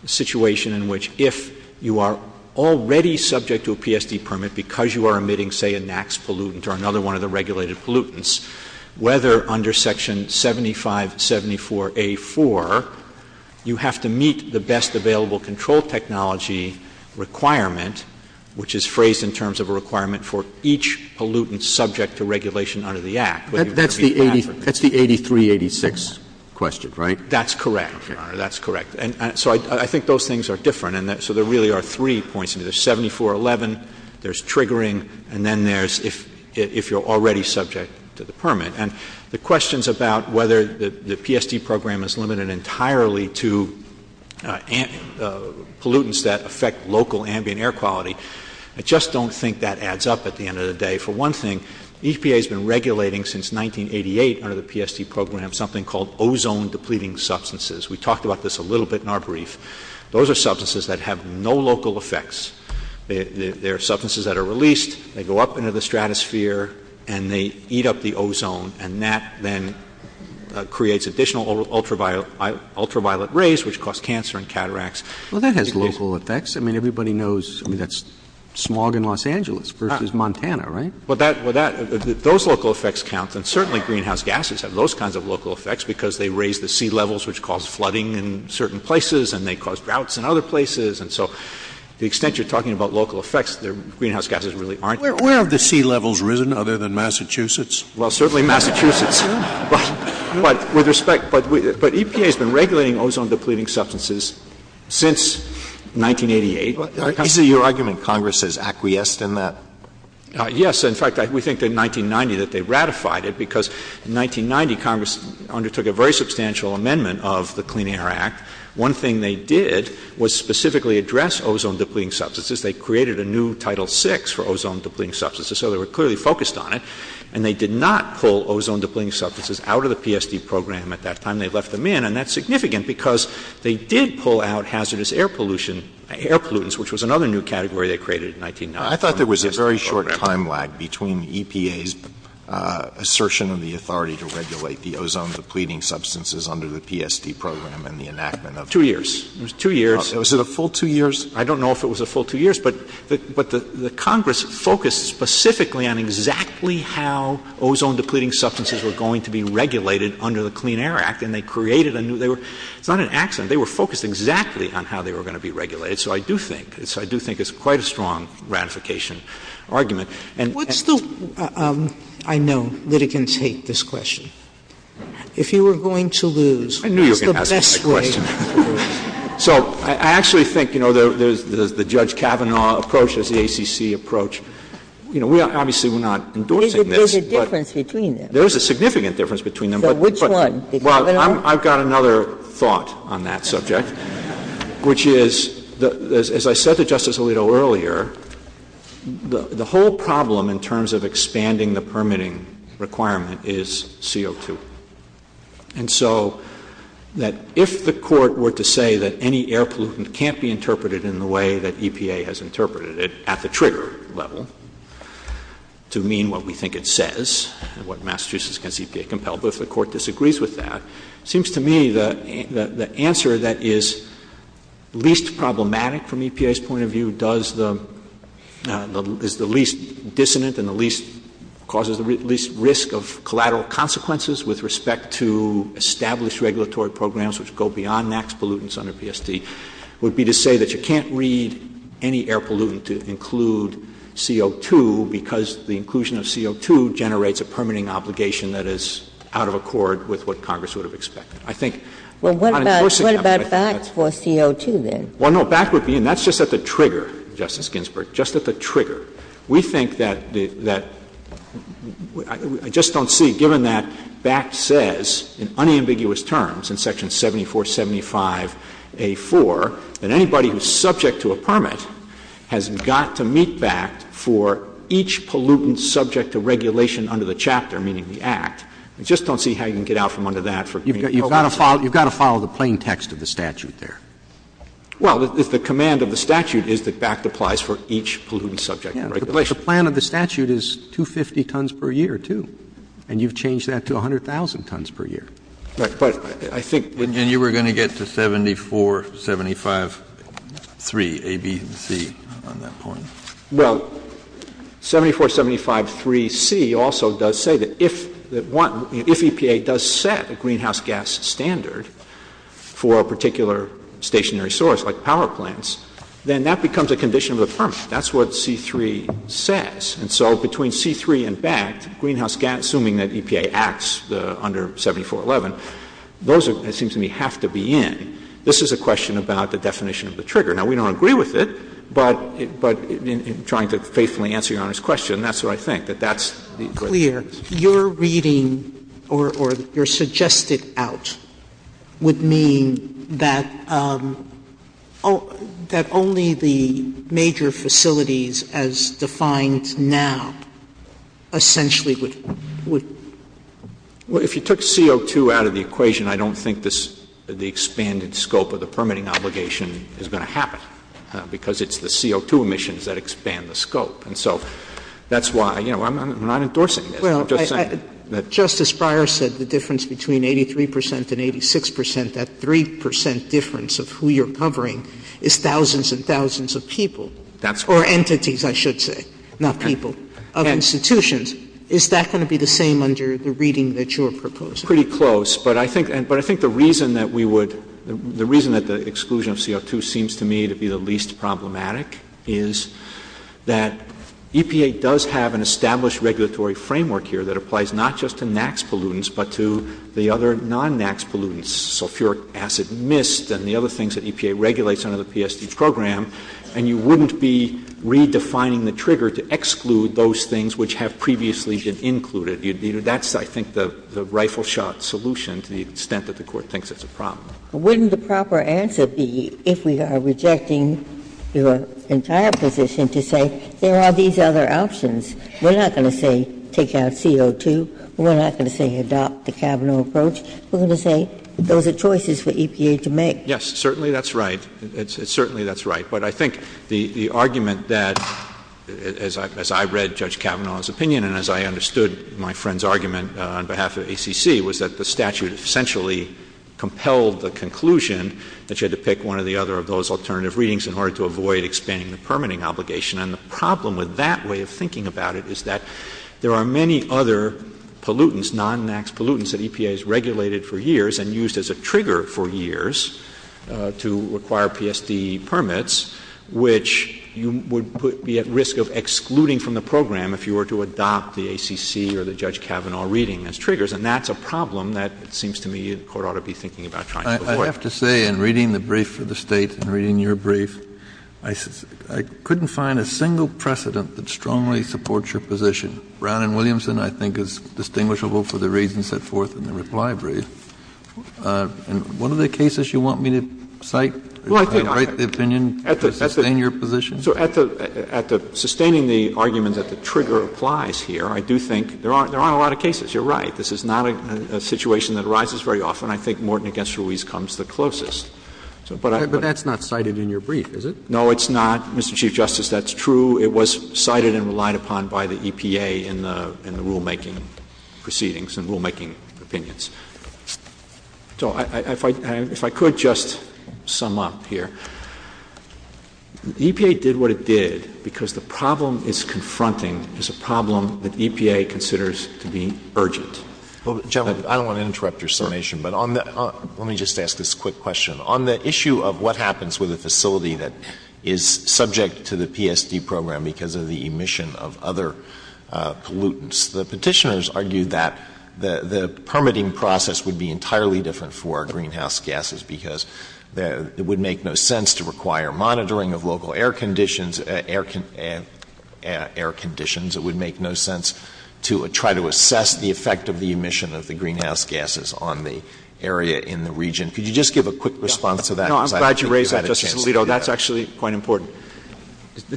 the situation in which if you are already subject to a PSD permit because you are emitting, say, a NAAQS pollutant or another one of the regulated pollutants, whether under Section 7574A4 you have to meet the best available control technology requirement, which is phrased in terms of a requirement for each pollutant subject to regulation under the Act. That's the 8386 question, right? That's correct, Your Honor, that's correct. And so I think those things are different and so there really are three points. There's 7411, there's triggering, and then there's if you're already subject to the permit. And the questions about whether the PSD program is limited entirely to pollutants that affect local ambient air quality, I just don't think that adds up at the end of the day. For one thing, EPA has been regulating since 1988 under the PSD program something called ozone depleting substances. We talked about this a little bit in our brief. Those are substances that have no local effects. They're substances that are released, they go up into the stratosphere, and they eat up the ozone and that then creates additional ultraviolet rays, which cause cancer and cataracts. Well, that has local effects. I mean, everybody knows that's smog in Los Angeles versus Montana, right? Well, if those local effects count, then certainly greenhouse gases have those kinds of local effects because they raise the sea levels, which cause flooding in certain places and they cause droughts in other places. And so the extent you're talking about local effects, greenhouse gases really aren't. Where have the sea levels risen other than Massachusetts? Well, certainly Massachusetts. With respect, EPA has been regulating ozone depleting substances since 1988. I see your argument Congress has acquiesced in that. Yes, in fact, we think in 1990 that they ratified it because in 1990 Congress undertook a very substantial amendment of the Clean Air Act. One thing they did was specifically address ozone depleting substances. They created a new Title VI for ozone depleting substances, so they were clearly focused on it. And they did not pull ozone depleting substances out of the PSD program at that time. They left them in, and that's significant because they did pull out hazardous air pollutants, which was another new category they created in 1990. I thought there was a very short time lag between EPA's assertion of the authority to regulate the ozone depleting substances under the PSD program and the enactment of... Two years. It was two years. Was it a full two years? I don't know if it was a full two years, but the Congress focused specifically on exactly how they were going to be regulated under the Clean Air Act, and they created a new... It's not an accident. They were focused exactly on how they were going to be regulated, so I do think it's quite a strong ratification argument. What's the... I know litigants hate this question. If you were going to lose... I knew you were going to ask me that question. So I actually think the Judge Kavanaugh approach is the ACC approach. We obviously were not endorsing this, but there's a significant difference between them, but... I've got another thought on that subject, which is, as I said to Justice Alito earlier, the whole problem in terms of expanding the permitting requirement is CO2, and so that if the Court were to say that any air pollutant can't be interpreted in the way that EPA has interpreted it at the trigger level to mean what we think it says, and what Massachusetts gets EPA-compelled, but if the Court disagrees with that, it seems to me that the answer that is least problematic from EPA's point of view is the least dissonant and causes the least risk of collateral consequences with respect to established regulatory programs which go beyond max pollutants under PSD, would be to say that you can't read any air pollutant to include CO2 because the inclusion of CO2 generates a permitting obligation that is out of accord with what Congress would have expected. I think... Well, what about BACT for CO2 then? Well, no, BACT would be, and that's just at the trigger, Justice Ginsburg, just at the trigger. We think that I just don't see, given that BACT says in unambiguous terms, in Section 7475 A.4, that anybody who's got to meet BACT for each pollutant subject to regulation under the chapter, meaning the Act, I just don't see how you can get out from under that. You've got to follow the plain text of the statute there. Well, if the command of the statute is that BACT applies for each pollutant subject to regulation. But the plan of the statute is 250 tons per year, too. And you've changed that to 100,000 tons per year. But I think... And you were going to get to 74, 75, 3, A, B, and C on that point. Well, 7475 3C also does say that if EPA does set a greenhouse gas standard for a particular stationary source, like power plants, then that becomes a condition of affirmation. That's what C3 says. And so between C3 and BACT, greenhouse gas, assuming that EPA acts under 7411, those, it seems to me, have to be in. This is a question about the definition of the trigger. Now, we don't agree with it, but in trying to faithfully answer Your Honor's question, that's what I think, that that's the equation. Your reading, or your suggested out, would mean that only the major facilities as defined now essentially would... Well, if you took CO2 out of the equation, I don't think the expanded scope of the permitting obligation is going to happen, because it's the CO2 emissions that expand the scope. And so that's why, you know, I'm not endorsing it. Justice Breyer said the difference between 83% and 86%, that 3% difference of who you're covering is thousands and thousands of people, or entities, I should say, not people, of institutions. Is that going to be the same under the reading that you have proposed? Pretty close, but I think the reason that we would, the reason that the exclusion of CO2 seems to me to be the least problematic is that EPA does have an established regulatory framework here that applies not just to NAAQS pollutants, but to the other non-NAAQS pollutants, sulfuric acid, mist, and the other things that EPA regulates under the PSD program, and you wouldn't be redefining the trigger to exclude those things which have previously been the rifle-shot solution to the extent that the Court thinks it's a problem. Wouldn't the proper answer be, if we are rejecting your entire position, to say there are these other options. We're not going to say take out CO2. We're not going to say adopt the Kavanaugh approach. We're going to say those are choices for EPA to make. Yes, certainly that's right. Certainly that's right. But I think the argument that as I read Judge Kavanaugh's opinion, and as I understood my friend's argument on behalf of ACC, was that the statute essentially compelled the conclusion that you had to pick one or the other of those alternative readings in order to avoid expanding the permitting obligation. And the problem with that way of thinking about it is that there are many other pollutants, non-NAAQS pollutants, that EPA has regulated for years and used as a trigger for years to require PSD permits, which you would be at risk of excluding from the program if you were to adopt the ACC or the Judge Kavanaugh reading as triggers. And that's a problem that it seems to me the Court ought to be thinking about trying to avoid. I have to say in reading the brief for the State, in reading your brief, I couldn't find a single precedent that strongly supports your position. Brown and Williamson I think is distinguishable for the reading set forth in the reply brief. What are the cases you want me to cite to break the opinion, sustain your position? At sustaining the argument that the trigger applies here, I do think there are a lot of cases. You're right. This is not a situation that arises very often. I think Morton v. Ruiz comes the closest. But that's not cited in your brief, is it? No, it's not, Mr. Chief Justice. That's true. It was cited and relied upon by the EPA in the rulemaking proceedings and rulemaking opinions. If I could just sum up here, EPA did what it did because the problem it's confronting is a problem that EPA considers to be urgent. Gentlemen, I don't want to interrupt your summation, but let me just ask this quick question. On the issue of what happens with a facility that is subject to the PSD program because of the emission of other pollutants, the petitioners argued that the permitting process would be entirely different for greenhouse gases because it would make no sense to require monitoring of local air conditions. It would make no sense to try to assess the effect of the emission of the greenhouse gases on the area in the region. Could you just give a quick response to that? I'm glad you raised that, Justice Alito. That's actually quite important.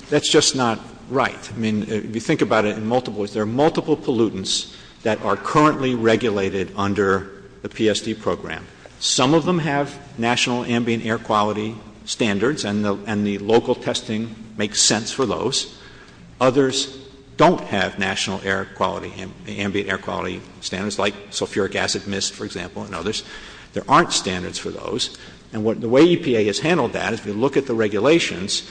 That's just not right. I mean, you think about it in multiple ways. There are multiple pollutants that are currently regulated under the PSD program. Some of them have national ambient air quality standards, and the local testing makes sense for those. Others don't have national ambient air quality standards like sulfuric acid mist, for example, and others. There aren't standards for those. And the way EPA has handled that, if you look at the regulations,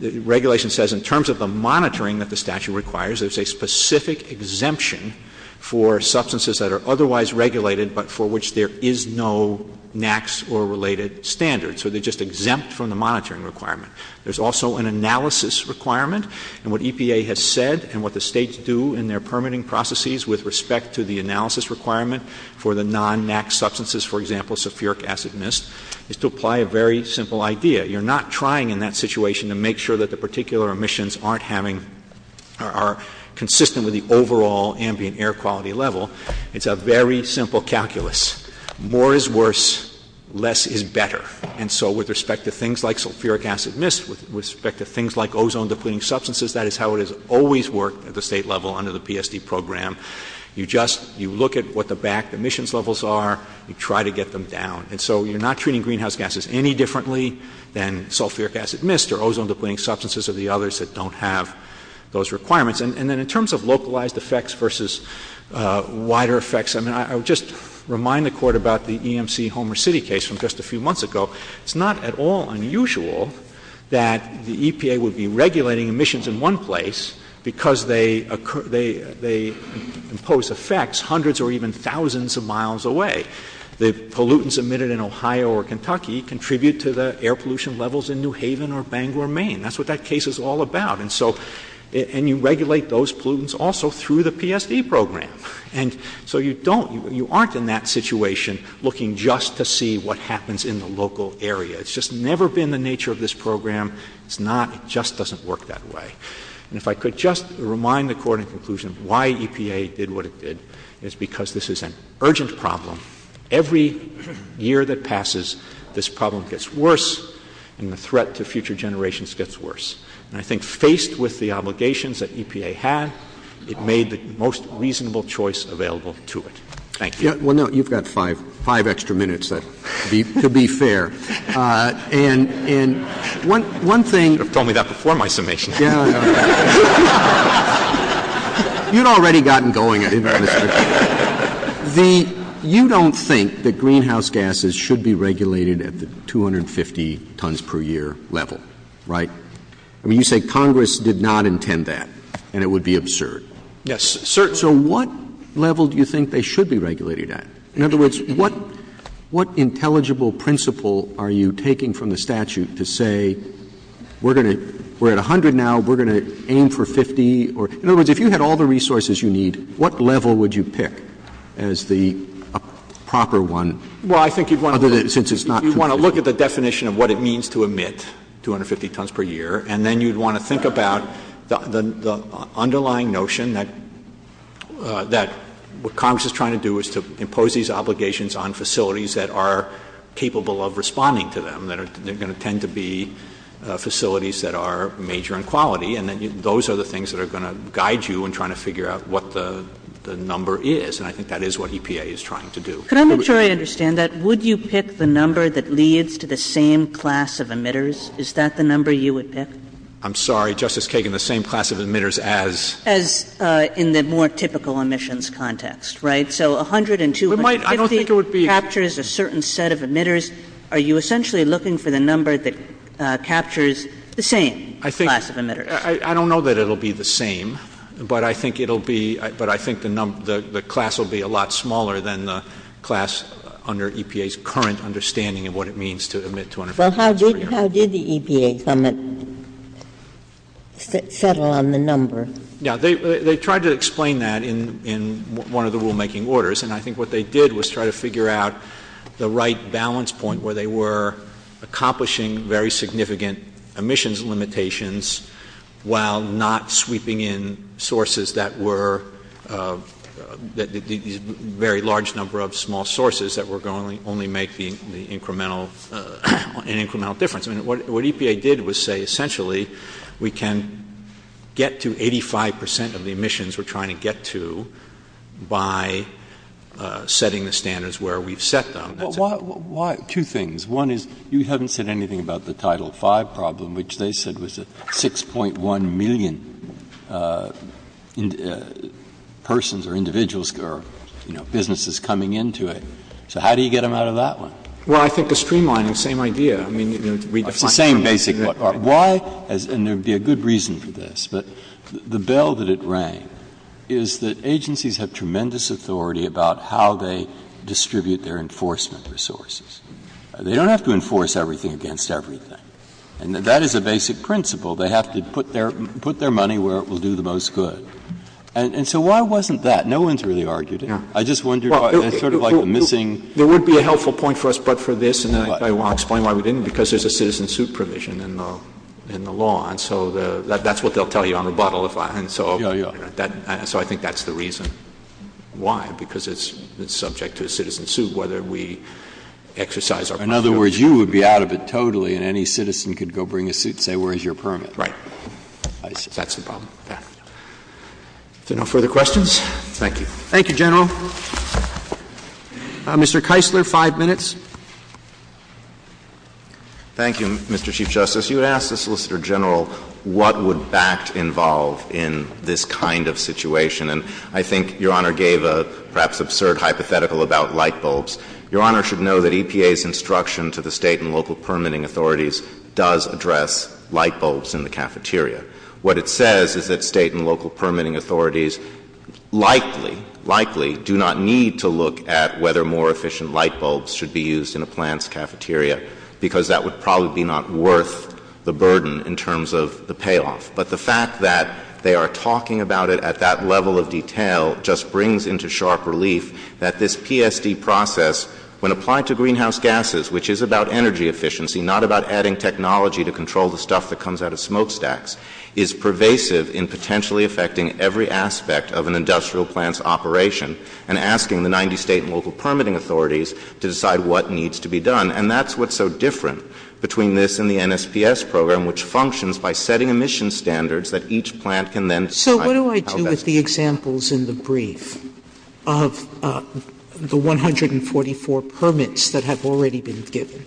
the regulation says in terms of the monitoring that the statute requires, there's a specific exemption for substances that are otherwise regulated but for which there is no NAAQS or related standards. So they're just exempt from the monitoring requirement. There's also an analysis requirement, and what EPA has said and what the states do in their permitting processes with respect to the analysis requirement for the non-NAAQS substances, for example, sulfuric acid mist, is to apply a very simple idea. You're not trying in that situation to make sure that the particular emissions aren't having or are consistent with the overall ambient air quality level. It's a very simple calculus. More is worse, less is better. And so with respect to things like sulfuric acid mist, with respect to things like ozone depleting substances, that is how it has always worked at the state level under the PSD program. You just, you look at what the back emissions levels are, you try to get them down. And so you're not treating greenhouse gases any differently than sulfuric acid mist or ozone depleting substances or the others that don't have those requirements. And then in terms of wider effects, I mean, I would just remind the Court about the EMC Homer City case from just a few months ago. It's not at all unusual that the EPA would be regulating emissions in one place because they impose effects hundreds or even thousands of miles away. The pollutants emitted in Ohio or Kentucky contribute to the air pollution levels in New Haven or Bangor, Maine. That's what that case is all about. And so you regulate those pollutants also through the PSD program. And so you don't, you aren't in that situation looking just to see what happens in the local area. It's just never been the nature of this program. It's not, it just doesn't work that way. And if I could just remind the Court in conclusion why EPA did what it did, it's because this is an urgent problem. Every year that passes, this problem gets worse, and the threat to future generations gets worse. And I think faced with the obligations that EPA had, it made the most reasonable choice available to it. Thank you. You've got five extra minutes to be fair. And one thing You should have told me that before my summation. You'd already gotten going. You don't think that greenhouse gases should be regulated at the 250 tons per year level, right? I mean, you say Congress did not intend that, and it would be absurd. Yes, sir. So what level do you think they should be regulated at? In other words, what intelligible principle are you taking from the statute to say we're going to, we're at 100 now, we're going to aim for 50 or, in other words, if you had all the resources you need, what level would you pick as the proper one? Well, I think you'd want to look at the definition of what it means to emit 250 tons per year, and then you'd want to think about the underlying notion that what Congress is trying to do is to impose these obligations on facilities that are capable of responding to them, that are going to tend to be facilities that are major in quality, and that those are the things that are going to guide you in trying to figure out what the number is. And I think that is what EPA is trying to do. But I'm not sure I understand that. Would you pick the same class of emitters? Is that the number you would pick? I'm sorry, Justice Kagan, the same class of emitters as? As in the more typical emissions context, right? So 100 and 250 captures a certain set of emitters. Are you essentially looking for the number that captures the same class of emitters? I don't know that it'll be the same, but I think it'll be, but I think the class will be a lot smaller than the class under EPA's current understanding of what it means to emit 250. Well, how did the EPA summit settle on the number? They tried to explain that in one of the rulemaking orders, and I think what they did was try to figure out the right balance point where they were accomplishing very significant emissions limitations while not sweeping in sources that were a very large number of sources. So I think that's an incremental difference. What EPA did was say, essentially, we can get to 85 percent of the emissions we're trying to get to by setting the standards where we've set them. Why? Two things. One is you haven't said anything about the Title V problem, which they said was 6.1 million persons or individuals or businesses coming into it. So how do you get them out of that one? Well, I think the streamlining is the same idea. Why? And there would be a good reason for this, but the bell that it rang is that agencies have tremendous authority about how they distribute their enforcement resources. They don't have to enforce everything against everything, and that is a basic principle. They have to put their money where it will do the most good. And so why wasn't that? No one's really argued it. There would be a helpful point for us, but for this, and I will explain why we didn't, because there's a citizen suit provision in the law, and so that's what they'll tell you on the bottle. So I think that's the reason why, because it's subject to a citizen suit whether we exercise our privilege. In other words, you would be out of it totally, and any citizen could go bring a suit and say, where is your permit? Right. That's the problem. Yeah. Are there no further questions? Thank you. Thank you, General. Mr. Keisler, five minutes. Thank you, Mr. Chief Justice. You asked the Solicitor General what would that involve in this kind of situation, and I think Your Honor gave a perhaps absurd hypothetical about light bulbs. Your Honor should know that EPA's instruction to the state and local permitting authorities does address light bulbs in the cafeteria. What it says is that state and local permitting authorities likely, likely do not need to look at whether more efficient light bulbs should be used in a plant's cafeteria, because that would probably be not worth the burden in terms of the payoff. But the fact that they are talking about it at that level of detail just brings into sharp relief that this PSD process, when applied to greenhouse gases, which is about energy efficiency, not about adding technology to control the stuff that comes out of smokestacks, is pervasive in potentially affecting every aspect of an industrial plant's operation and asking the 90 state and local permitting authorities to decide what needs to be done. And that's what's so different between this and the NSPS program, which functions by setting emission standards that each plant can then So what do I do with the examples in the brief of the 144 permits that have already been given?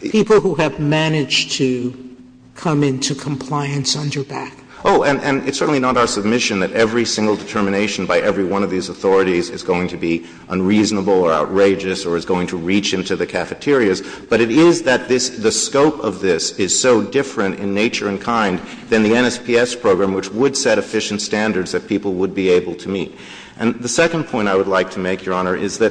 People who have managed to come into compliance under that. Oh, and it's certainly not our submission that every single determination by every one of these authorities is going to be unreasonable or outrageous or is going to reach into the cafeterias, but it is that the scope of this is so different in nature and kind than the NSPS program, which would set efficient standards that people would be able to meet. And the second point I would like to make, Your Majesty,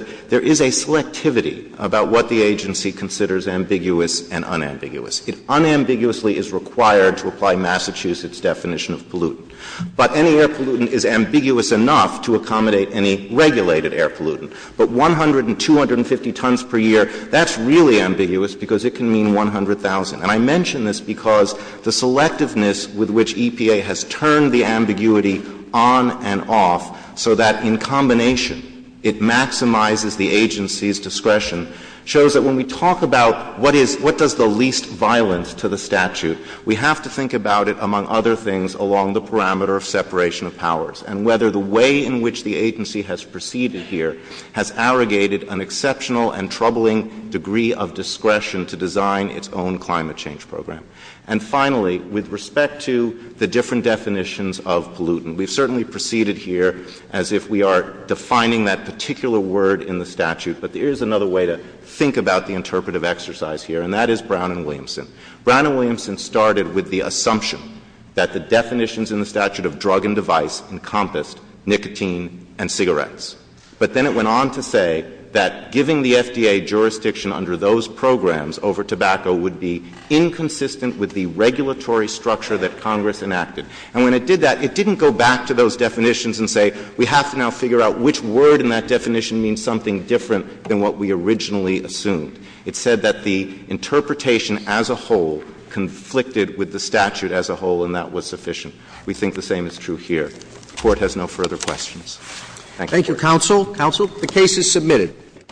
about what the agency considers ambiguous and unambiguous. It unambiguously is required to apply Massachusetts' definition of pollutant. But any air pollutant is ambiguous enough to accommodate any regulated air pollutant. But 100 and 250 tons per year, that's really ambiguous because it can mean 100,000. And I mention this because the selectiveness with which EPA has turned the ambiguity on and off so that in combination it maximizes the agency's discretion, shows that when we talk about what does the least violence to the statute, we have to think about it, among other things, along the parameter of separation of powers and whether the way in which the agency has proceeded here has arrogated an exceptional and troubling degree of discretion to design its own climate change program. And finally, with respect to the different definitions of pollutant, we've certainly proceeded here as if we are defining that particular word in the statute. But there is another way to think about the interpretive exercise here, and that is Brown and Williamson. Brown and Williamson started with the assumption that the definitions in the statute of drug and device encompass nicotine and cigarettes. But then it went on to say that giving the FDA jurisdiction under those programs over tobacco would be inconsistent with the regulatory structure that Congress enacted. And when it did that, it didn't go back to those definitions and say, we have to now figure out which word in that definition means something different than what we originally assumed. It said that the interpretation as a whole conflicted with the statute as a whole, and that was sufficient. We think the same is true here. The Court has no further questions. Thank you. Thank you, Counsel. Counsel, the case is submitted.